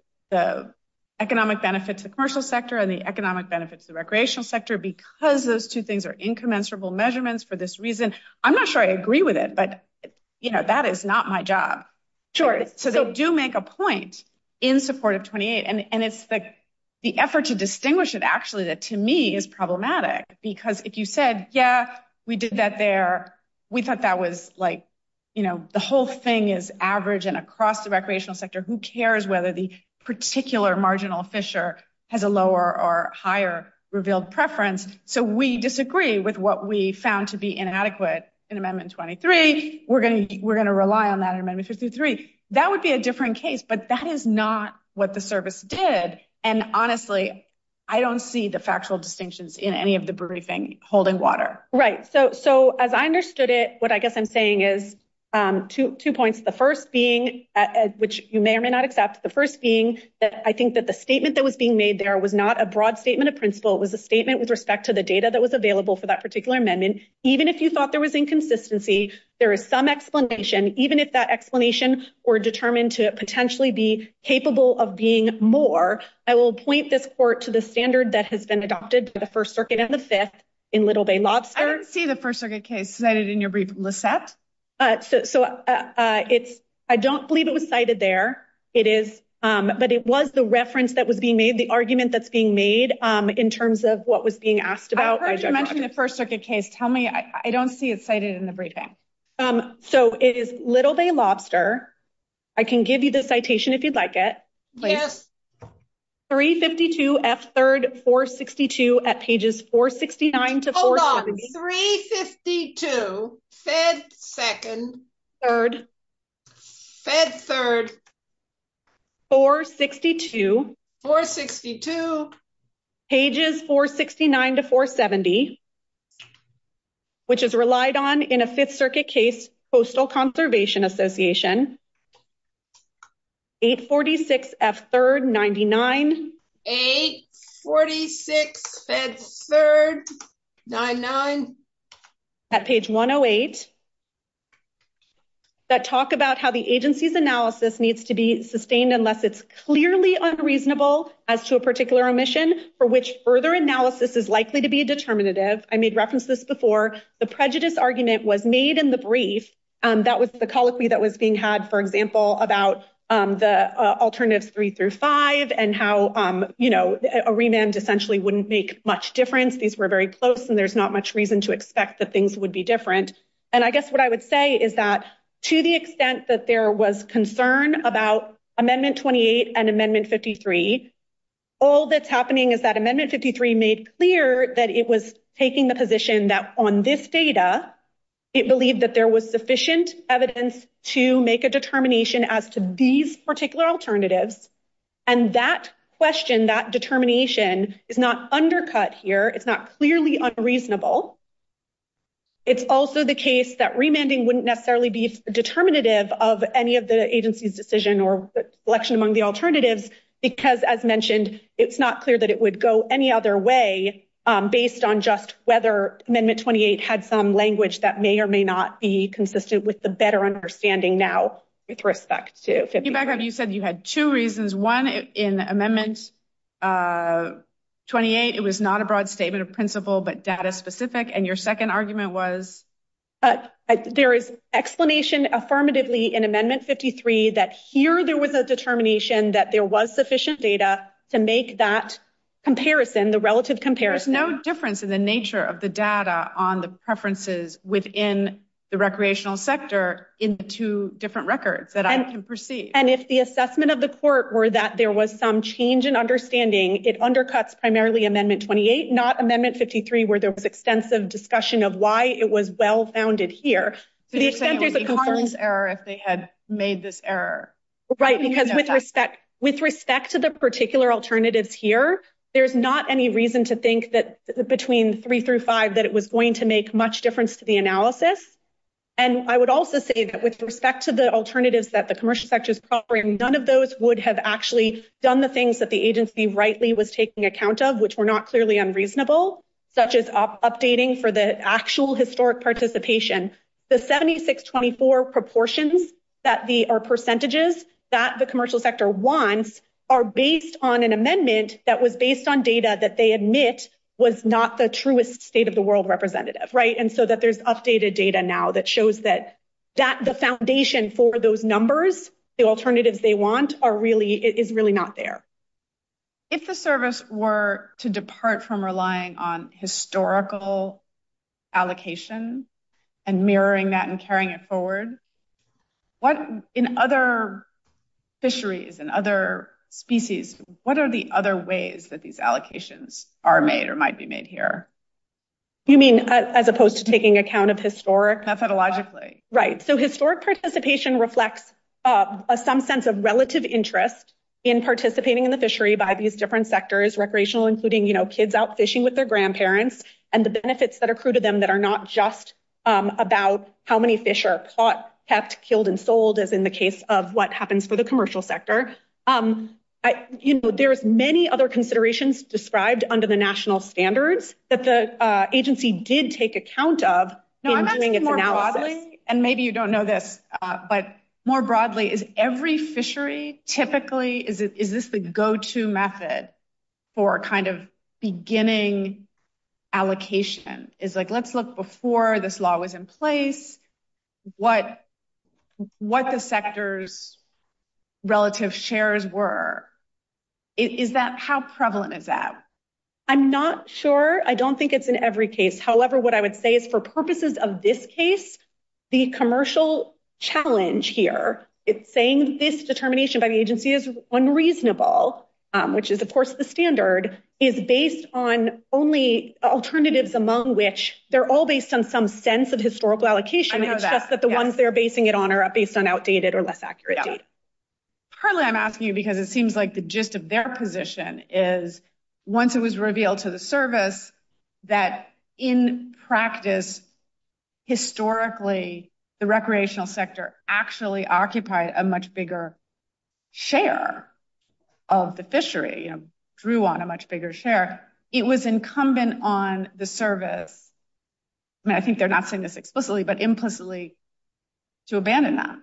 economic benefits of the commercial sector and the economic benefits of the recreational sector because those two things are incommensurable measurements for this reason. I'm not sure I agree with it, but, you know, that is not my job. Sure. So they do make a point in support of 28, and it's the effort to distinguish it, actually, that to me is problematic, because if you said, yeah, we did that there, we thought that was, like, you know, the whole thing is average and across the recreational sector. Who cares whether the particular marginal fissure has a lower or higher revealed preference? So we disagree with what we found to be inadequate in Amendment 23. We're going to rely on that in Amendment 53. That would be a different case, but that is not what the service did. And, honestly, I don't see the factual distinctions in any of the briefing holding water. Right. So as I understood it, what I guess I'm saying is two points. The first being, which you may or may not accept, the first being that I think that the statement that was being made there was not a broad statement of principle. It was a statement with respect to the data that was available for that particular amendment. Even if you thought there was inconsistency, there is some explanation, even if that explanation were determined to potentially be capable of being more, I will point this court to the standard that has been adopted to the First Circuit and the Fifth in Little Bay Lobster. I don't see the First Circuit case cited in your briefing list. So I don't believe it was cited there. It is, but it was the reference that was being made, the argument that's being made in terms of what was being asked about. I heard you mention the First Circuit case. Tell me, I don't see it cited in the briefing. So it is Little Bay Lobster. I can give you the citation if you'd like it. 352F3-462 at pages 469-470. Hold on. 352F3-462 at pages 469-470. Which is relied on in a Fifth Circuit case, Postal Conservation Association. 846F3-99. 846F3-99. At page 108. That talk about how the agency's analysis needs to be sustained unless it's clearly unreasonable as to a particular omission for which further analysis is likely to be determinative. I made reference to this before. The prejudice argument was made in the brief. That was the policy that was being had, for example, about the Alternative 3 through 5 and how a remand essentially wouldn't make much difference. These were very close, and there's not much reason to expect that things would be different. And I guess what I would say is that to the extent that there was concern about Amendment 28 and Amendment 53, all that's happening is that Amendment 53 made clear that it was taking the position that on this data, it believed that there was sufficient evidence to make a determination as to these particular alternatives, and that question, that determination is not undercut here. It's not clearly unreasonable. It's also the case that remanding wouldn't necessarily be determinative of any of the agency's decision or selection among the alternatives because, as mentioned, it's not clear that it would go any other way based on just whether Amendment 28 had some language that may or may not be consistent with the better understanding now with respect to 53. You said you had two reasons. One, in Amendment 28, it was not a broad statement of principle but data-specific, and your second argument was? There is explanation affirmatively in Amendment 53 that here there was a determination that there was sufficient data to make that comparison, the relative comparison. There's no difference in the nature of the data on the preferences within the recreational sector in the two different records that I can perceive. And if the assessment of the court were that there was some change in understanding, it undercuts primarily Amendment 28, not Amendment 53 where there was extensive discussion of why it was well-founded here. To the extent that it would be the court's error if they had made this error. Right, because with respect to the particular alternatives here, there's not any reason to think that between 3 through 5 that it was going to make much difference to the analysis. And I would also say that with respect to the alternatives that the commercial sectors offering, none of those would have actually done the things that the agency rightly was taking account of, which were not clearly unreasonable, such as updating for the actual historic participation. The 76-24 proportions or percentages that the commercial sector wants are based on an amendment that was based on data that they admit was not the truest state-of-the-world representative. Right, and so there's updated data now that shows that the foundation for those numbers, the alternatives they want, is really not there. If the service were to depart from relying on historical allocation and mirroring that and carrying it forward, in other fisheries, in other species, what are the other ways that these allocations are made or might be made here? You mean as opposed to taking account of historic? Methodologically. Right, so historic participation reflects some sense of relative interest in participating in the fishery by these different sectors, recreational including kids out fishing with their grandparents, and the benefits that are accrued to them that are not just about how many fish are caught, kept, killed, and sold, as in the case of what happens for the commercial sector. There's many other considerations described under the national standards that the agency did take account of in doing its analysis. And maybe you don't know this, but more broadly, is every fishery typically, is this the go-to method for kind of beginning allocation? It's like, let's look before this law was in place, what the sector's relative shares were. Is that, how prevalent is that? I'm not sure. I don't think it's in every case. However, what I would say is for purposes of this case, the commercial challenge here, it's saying this determination by the agency is unreasonable, which is of course the standard, is based on only alternatives among which they're all based on some sense of historical allocation. I know that. Except that the ones they're basing it on are based on outdated or less accurate data. Currently, I'm asking you because it seems like the gist of their position is once it was revealed to the service that in practice, historically, the recreational sector actually occupied a much bigger share of the fishery and grew on a much bigger share. It was incumbent on the service, and I think they're not saying this explicitly, but implicitly to abandon that.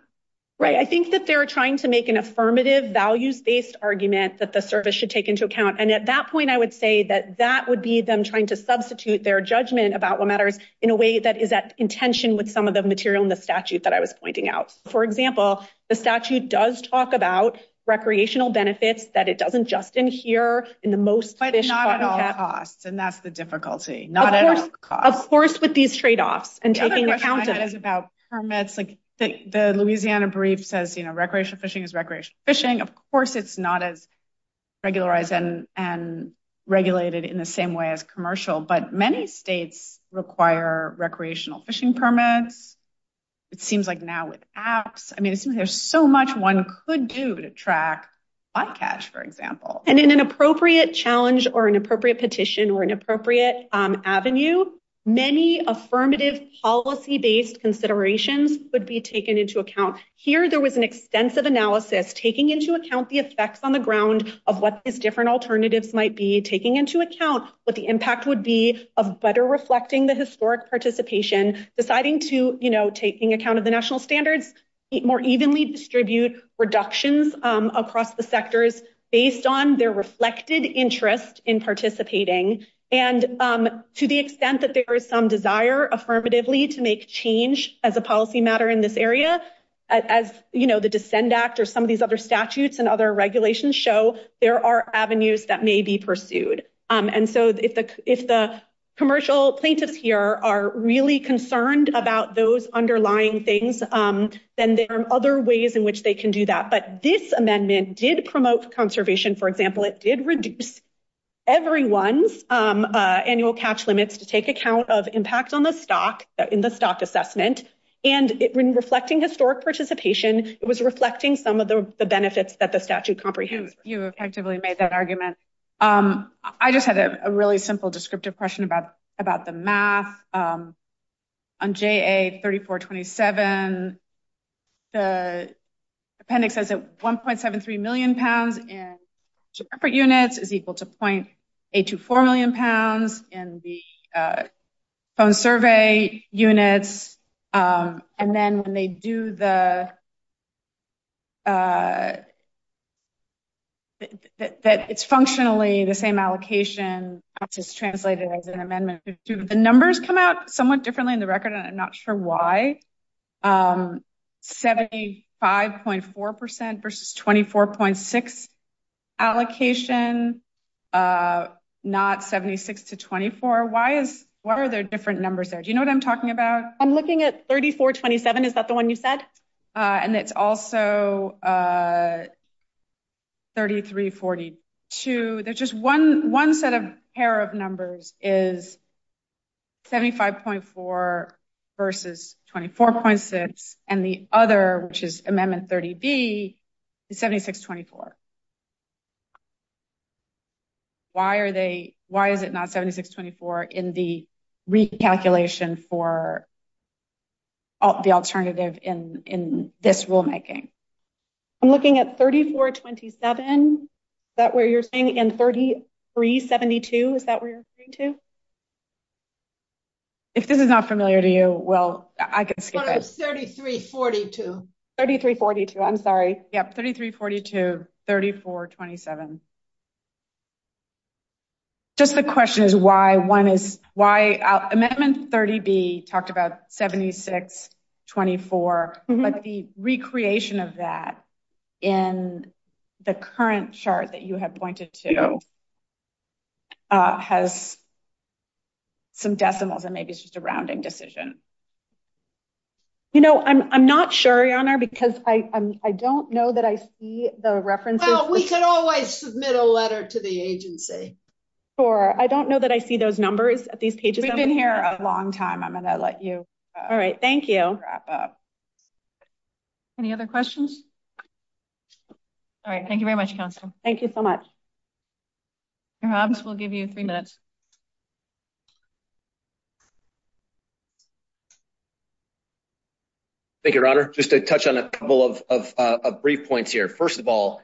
Right. I think that they were trying to make an affirmative value-based argument that the service should take into account. At that point, I would say that that would be them trying to substitute their judgment about what matters in a way that is at contention with some of the material in the statute that I was pointing out. For example, the statute does talk about recreational benefits, that it doesn't just adhere in the most fish- But not at all costs, and that's the difficulty. Not at all costs. Of course, with these trade-offs and taking account of- The other question I had is about permits. The Louisiana brief says recreational fishing is recreational fishing. Of course, it's not as regularized and regulated in the same way as commercial, but many states require recreational fishing permits. It seems like now with apps, I mean, there's so much one could do to track spot catch, for example. In an appropriate challenge or an appropriate petition or an appropriate avenue, many affirmative policy-based considerations would be taken into account. Here, there was an extensive analysis, taking into account the effects on the ground of what these different alternatives might be, taking into account what the impact would be of better reflecting the historic participation, deciding to, you know, taking account of the national standards, more evenly distribute reductions across the sectors based on their reflected interest in participating, and to the extent that there is some desire affirmatively to make change as a policy matter in this area, as, you know, the Dissent Act or some of these other statutes and other regulations show, there are avenues that may be pursued. And so if the commercial plaintiffs here are really concerned about those underlying things, then there are other ways in which they can do that. But this amendment did promote conservation, for example. It did reduce everyone's annual catch limits to take account of impacts on the stock in the stock assessment. And in reflecting historic participation, it was reflecting some of the benefits that the statute comprehended. You effectively made that argument. I just have a really simple descriptive question about the math. On JA 3427, the appendix says that 1.73 million pounds in corporate units is equal to .824 million pounds in the phone survey units. And then when they do the – that it's functionally the same allocation, which is translated as an out somewhat differently in the record. I'm not sure why. 75.4% versus 24.6% allocation, not 76 to 24. Why is – what are the different numbers there? Do you know what I'm talking about? I'm looking at 3427. Is that the one you said? And it's also 3342. There's just one set of pair of numbers is 75.4% versus 24.6%. And the other, which is Amendment 30B, is 76 to 24. Why are they – why is it not 76 to 24 in the recalculation for the alternative in this rulemaking? I'm looking at 3427. Is that what you're saying? And 3372, is that what you're saying too? If this is not familiar to you, well, I can skip it. No, it's 3342. 3342, I'm sorry. Yeah, 3342, 3427. Just the question is why one is – why – Amendment 30B talked about 76, 24. But the recreation of that in the current chart that you have pointed to has some decimals, and maybe it's just a rounding decision. You know, I'm not sure, Your Honor, because I don't know that I see the references. Well, we could always submit a letter to the agency. Sure. I don't know that I see those numbers at these pages. We've been here a long time. I'm going to let you wrap up. All right, thank you. Any other questions? All right, thank you very much, Counsel. Thank you so much. Mr. Hobbs, we'll give you three minutes. Thank you, Your Honor. Just to touch on a couple of brief points here. First of all,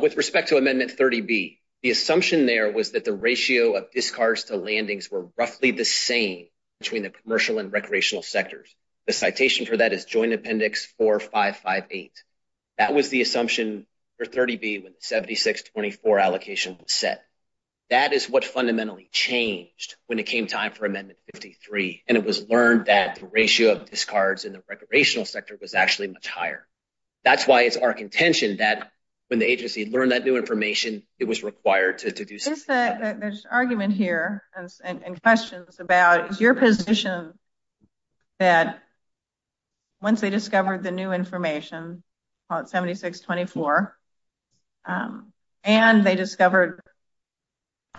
with respect to Amendment 30B, the assumption there was that the ratio of discards to landings were roughly the same between the commercial and recreational sectors. The citation for that is Joint Appendix 4558. That was the assumption for 30B when the 76, 24 allocation was set. That is what fundamentally changed when it came time for Amendment 53, and it was learned that the ratio of discards in the recreational sector was actually much higher. That's why it's our contention that when the agency learned that new information, it was required to do so. There's argument here and questions about, is your position that once they discovered the new information, 76, 24, and they discovered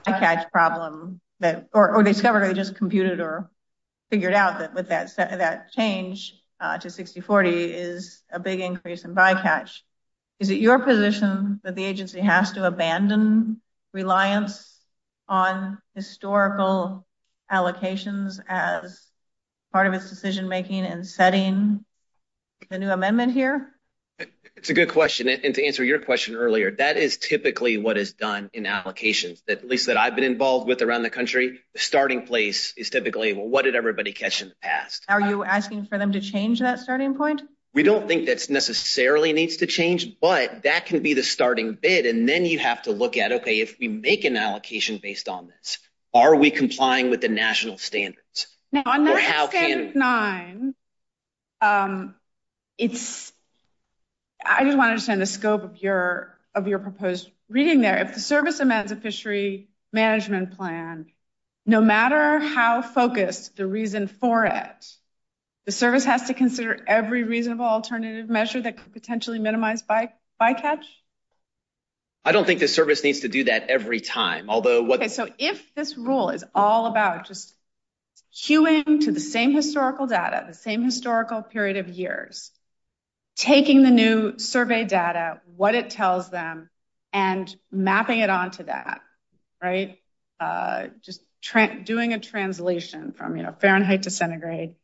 a bycatch problem, or discovered or just computed or figured out that with that change to 60, 40 is a big increase in bycatch, is it your position that the agency has to abandon reliance on historical allocations as part of its decision making and setting the new amendment here? It's a good question, and to answer your question earlier, that is typically what is done in allocations. At least that I've been involved with around the country, the starting place is typically what did everybody catch and ask? Are you asking for them to change that starting point? We don't think that necessarily needs to change, but that can be the starting bid, and then you have to look at, okay, if we make an allocation based on this, are we complying with the national standards? Now, on that phase nine, I just want to understand the scope of your proposed reading there. If the service amends the fishery management plan, no matter how focused the reason for it, the service has to consider every reasonable alternative measure that could potentially minimize bycatch? I don't think the service needs to do that every time. Okay, so if this rule is all about just queuing to the same historical data, the same historical period of years, taking the new survey data, what it tells them, and mapping it onto that, right? Just doing a translation from Fahrenheit to centigrade,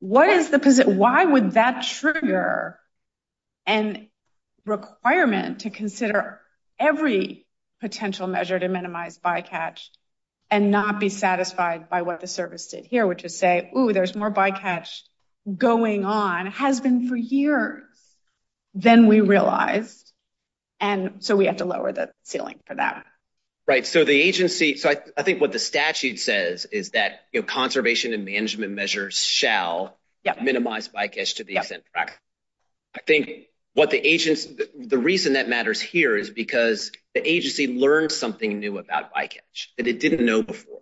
why would that trigger a requirement to consider every potential measure to minimize bycatch and not be satisfied by what the service did here, which would say, ooh, there's more bycatch going on. It has been for years, then we realize, and so we have to lower the ceiling for that. Right, so the agency, I think what the statute says is that conservation and management measures shall minimize bycatch to the extent. I think the reason that matters here is because the agency learned something new about bycatch that it didn't know before.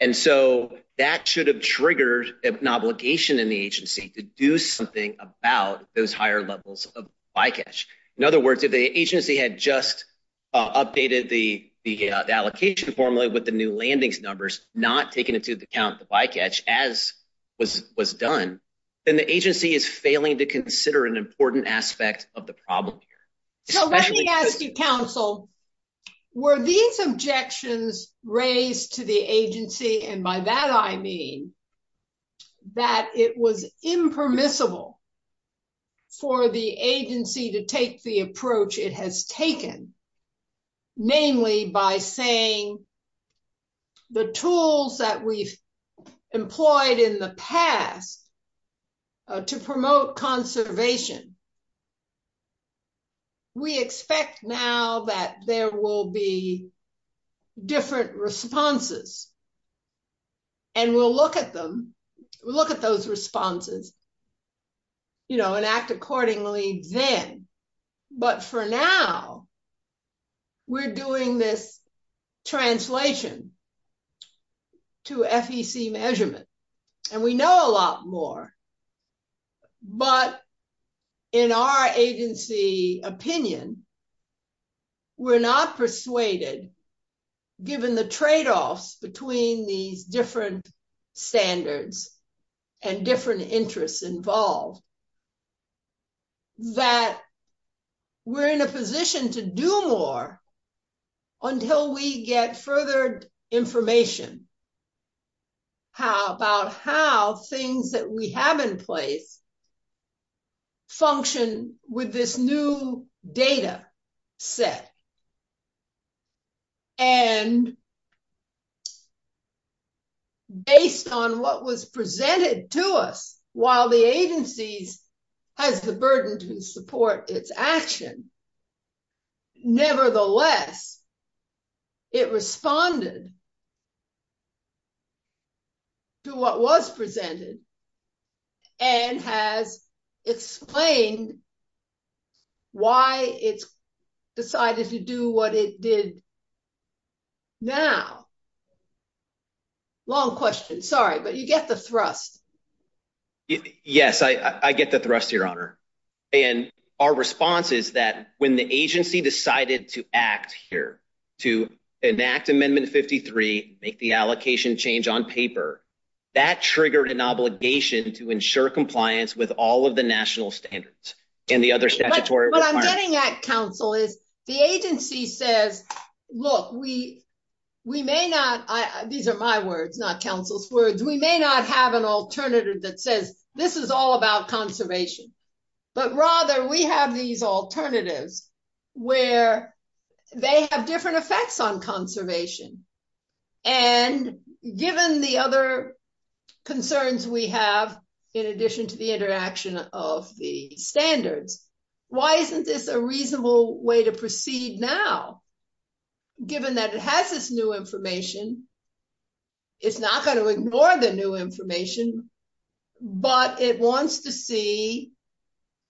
And so that should have triggered an obligation in the agency to do something about those higher levels of bycatch. In other words, if the agency had just updated the allocation formula with the new landings numbers, not taking into account the bycatch, as was done, then the agency is failing to consider an important aspect of the problem. So let me ask you, counsel, were these objections raised to the agency, and by that I mean that it was impermissible for the agency to take the approach it has taken, namely by saying the tools that we've employed in the past to promote conservation, we expect now that there will be different responses, and we'll look at them, look at those responses, you know, and act accordingly then. But for now, we're doing this translation to FEC measurements, and we know a lot more, but in our agency opinion, we're not persuaded, given the tradeoffs between these different standards and different interests involved, that we're in a position to do more until we get further information about how things that we have in place function with this new data set. And based on what was presented to us, while the agency has the burden to support its action, nevertheless, it responded to what was presented, and has explained why it decided to do what it did now. Long question, sorry, but you get the thrust. Yes, I get the thrust, Your Honor, and our response is that when the agency decided to act here, to enact Amendment 53, make the allocation change on paper, that triggered an obligation to ensure compliance with all of the national standards. What I'm getting at, counsel, is the agency says, look, we may not, these are my words, not counsel's words, we may not have an alternative that says, this is all about conservation. But rather, we have these alternatives where they have different effects on conservation. And given the other concerns we have, in addition to the interaction of the standards, why isn't this a reasonable way to proceed now? Given that it has this new information, it's not going to ignore the new information, but it wants to see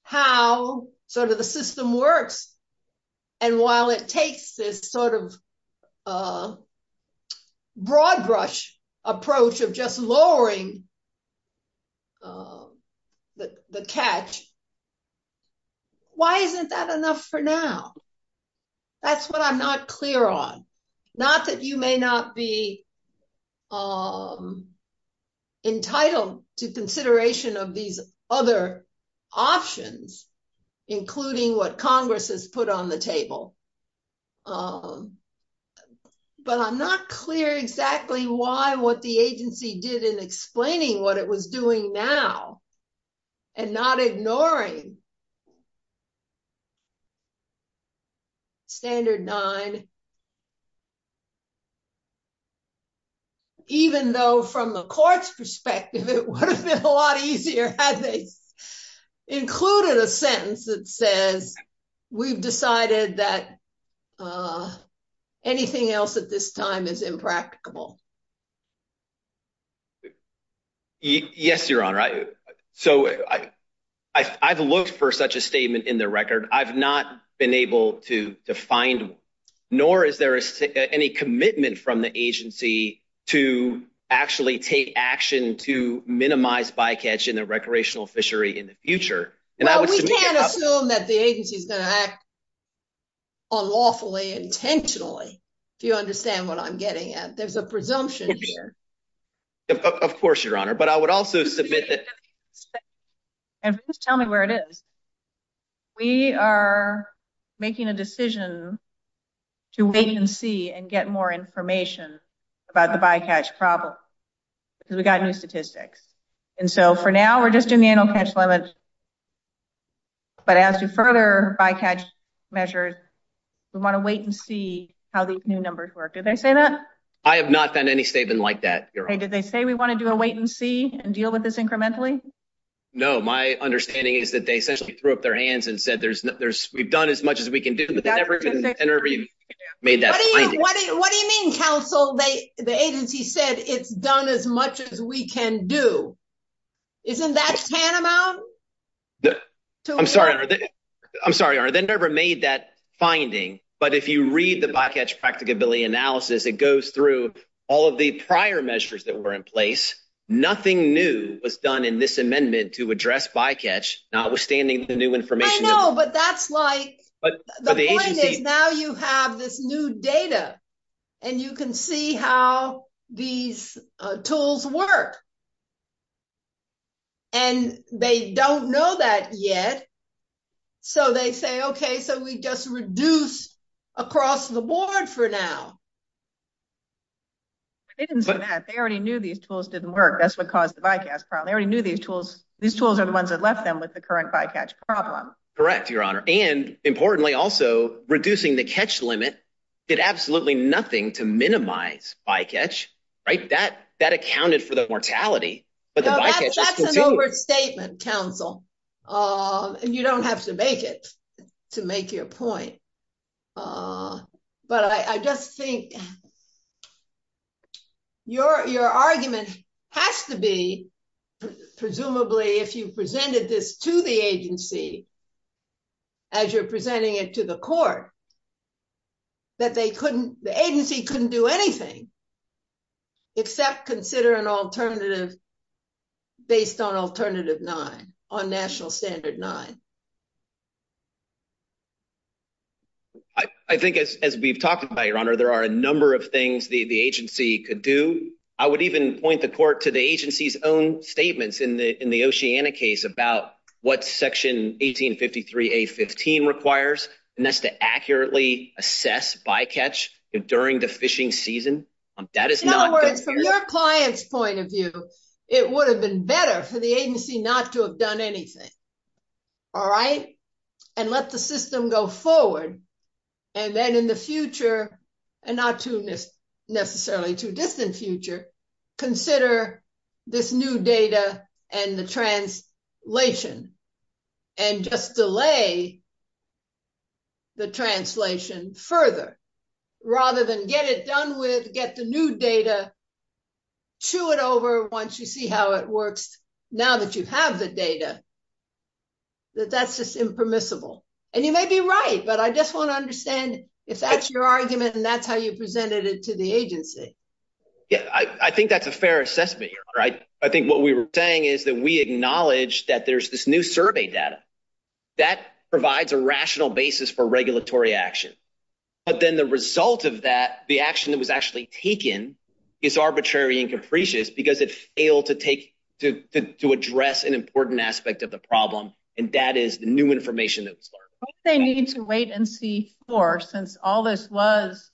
how sort of the system works. And while it takes this sort of broad brush approach of just lowering the catch, why isn't that enough for now? That's what I'm not clear on. Not that you may not be entitled to consideration of these other options, including what Congress has put on the table. But I'm not clear exactly why, what the agency did in explaining what it was doing now, and not ignoring Standard 9. Even though, from the court's perspective, it would have been a lot easier had they included a sentence that says, we've decided that anything else at this time is impracticable. Yes, Your Honor. So, I've looked for such a statement in the record. I've not been able to find one. Nor is there any commitment from the agency to actually take action to minimize bycatch in a recreational fishery in the future. Well, we can't assume that the agency is going to act unlawfully intentionally, if you understand what I'm getting at. There's a presumption here. Of course, Your Honor. But I would also submit that... And please tell me where it is. We are making a decision to wait and see and get more information about the bycatch problem. Because we've got new statistics. And so, for now, we're just doing the annual catch limits. But as to further bycatch measures, we want to wait and see how these new numbers work. Did they say that? I have not found any statement like that, Your Honor. Did they say, we want to do a wait and see and deal with this incrementally? No. My understanding is that they essentially threw up their hands and said, we've done as much as we can do, but they've never made that finding. What do you mean, counsel? The agency said, it's done as much as we can do. Isn't that tantamount? I'm sorry, Your Honor. They never made that finding. But if you read the bycatch practicability analysis, it goes through all of the prior measures that were in place. Nothing new was done in this amendment to address bycatch, notwithstanding the new information. I know, but that's like, now you have this new data, and you can see how these tools work. And they don't know that yet. So they say, okay, so we just reduce across the board for now. They didn't say that. They already knew these tools didn't work. That's what caused the bycatch problem. They already knew these tools are the ones that left them with the current bycatch problem. Correct, Your Honor. And importantly, also, reducing the catch limit did absolutely nothing to minimize bycatch. That accounted for the mortality. That's an overstatement, counsel. You don't have to make it to make your point. But I just think your argument has to be, presumably, if you presented this to the agency, as you're presenting it to the court, that the agency couldn't do anything except consider an alternative based on Alternative 9, on National Standard 9. I think as we've talked about, Your Honor, there are a number of things the agency could do. I would even point the court to the agency's own statements in the Oceana case about what Section 1853A15 requires, and that's to accurately assess bycatch during the fishing season. In other words, from your client's point of view, it would have been better for the agency not to have done anything. All right? And let the system go forward. And then in the future, and not necessarily too distant future, consider this new data and the translation. And just delay the translation further, rather than get it done with, get the new data, chew it over once you see how it works, now that you have the data, that that's just impermissible. And you may be right, but I just want to understand if that's your argument and that's how you presented it to the agency. Yes, I think that's a fair assessment, Your Honor. I think what we were saying is that we acknowledge that there's this new survey data. That provides a rational basis for regulatory action. But then the result of that, the action that was actually taken, is arbitrary and capricious because it failed to take, to address an important aspect of the problem, and that is the new information that was provided. What they need to wait and see for, since all this was,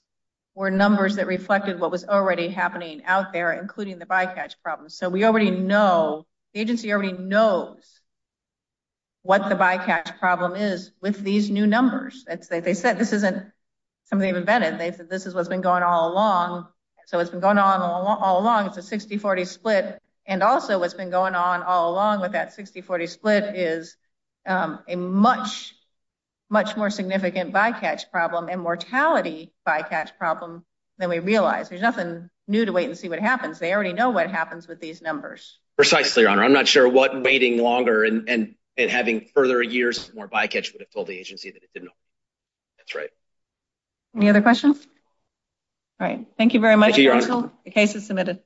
were numbers that reflected what was already happening out there, including the bycatch problem. So we already know, the agency already knows what the bycatch problem is with these new numbers. It's like they said, this isn't something they've invented. This is what's been going on all along. So it's been going on all along. It's a 60-40 split. And also what's been going on all along with that 60-40 split is a much, much more significant bycatch problem and mortality bycatch problem than we realize. There's nothing new to wait and see what happens. They already know what happens with these numbers. Precisely, Your Honor. I'm not sure what waiting longer and having further years more bycatch would have told the agency that it didn't know. That's right. Any other questions? All right. Thank you very much. Thank you, Your Honor. The case is submitted.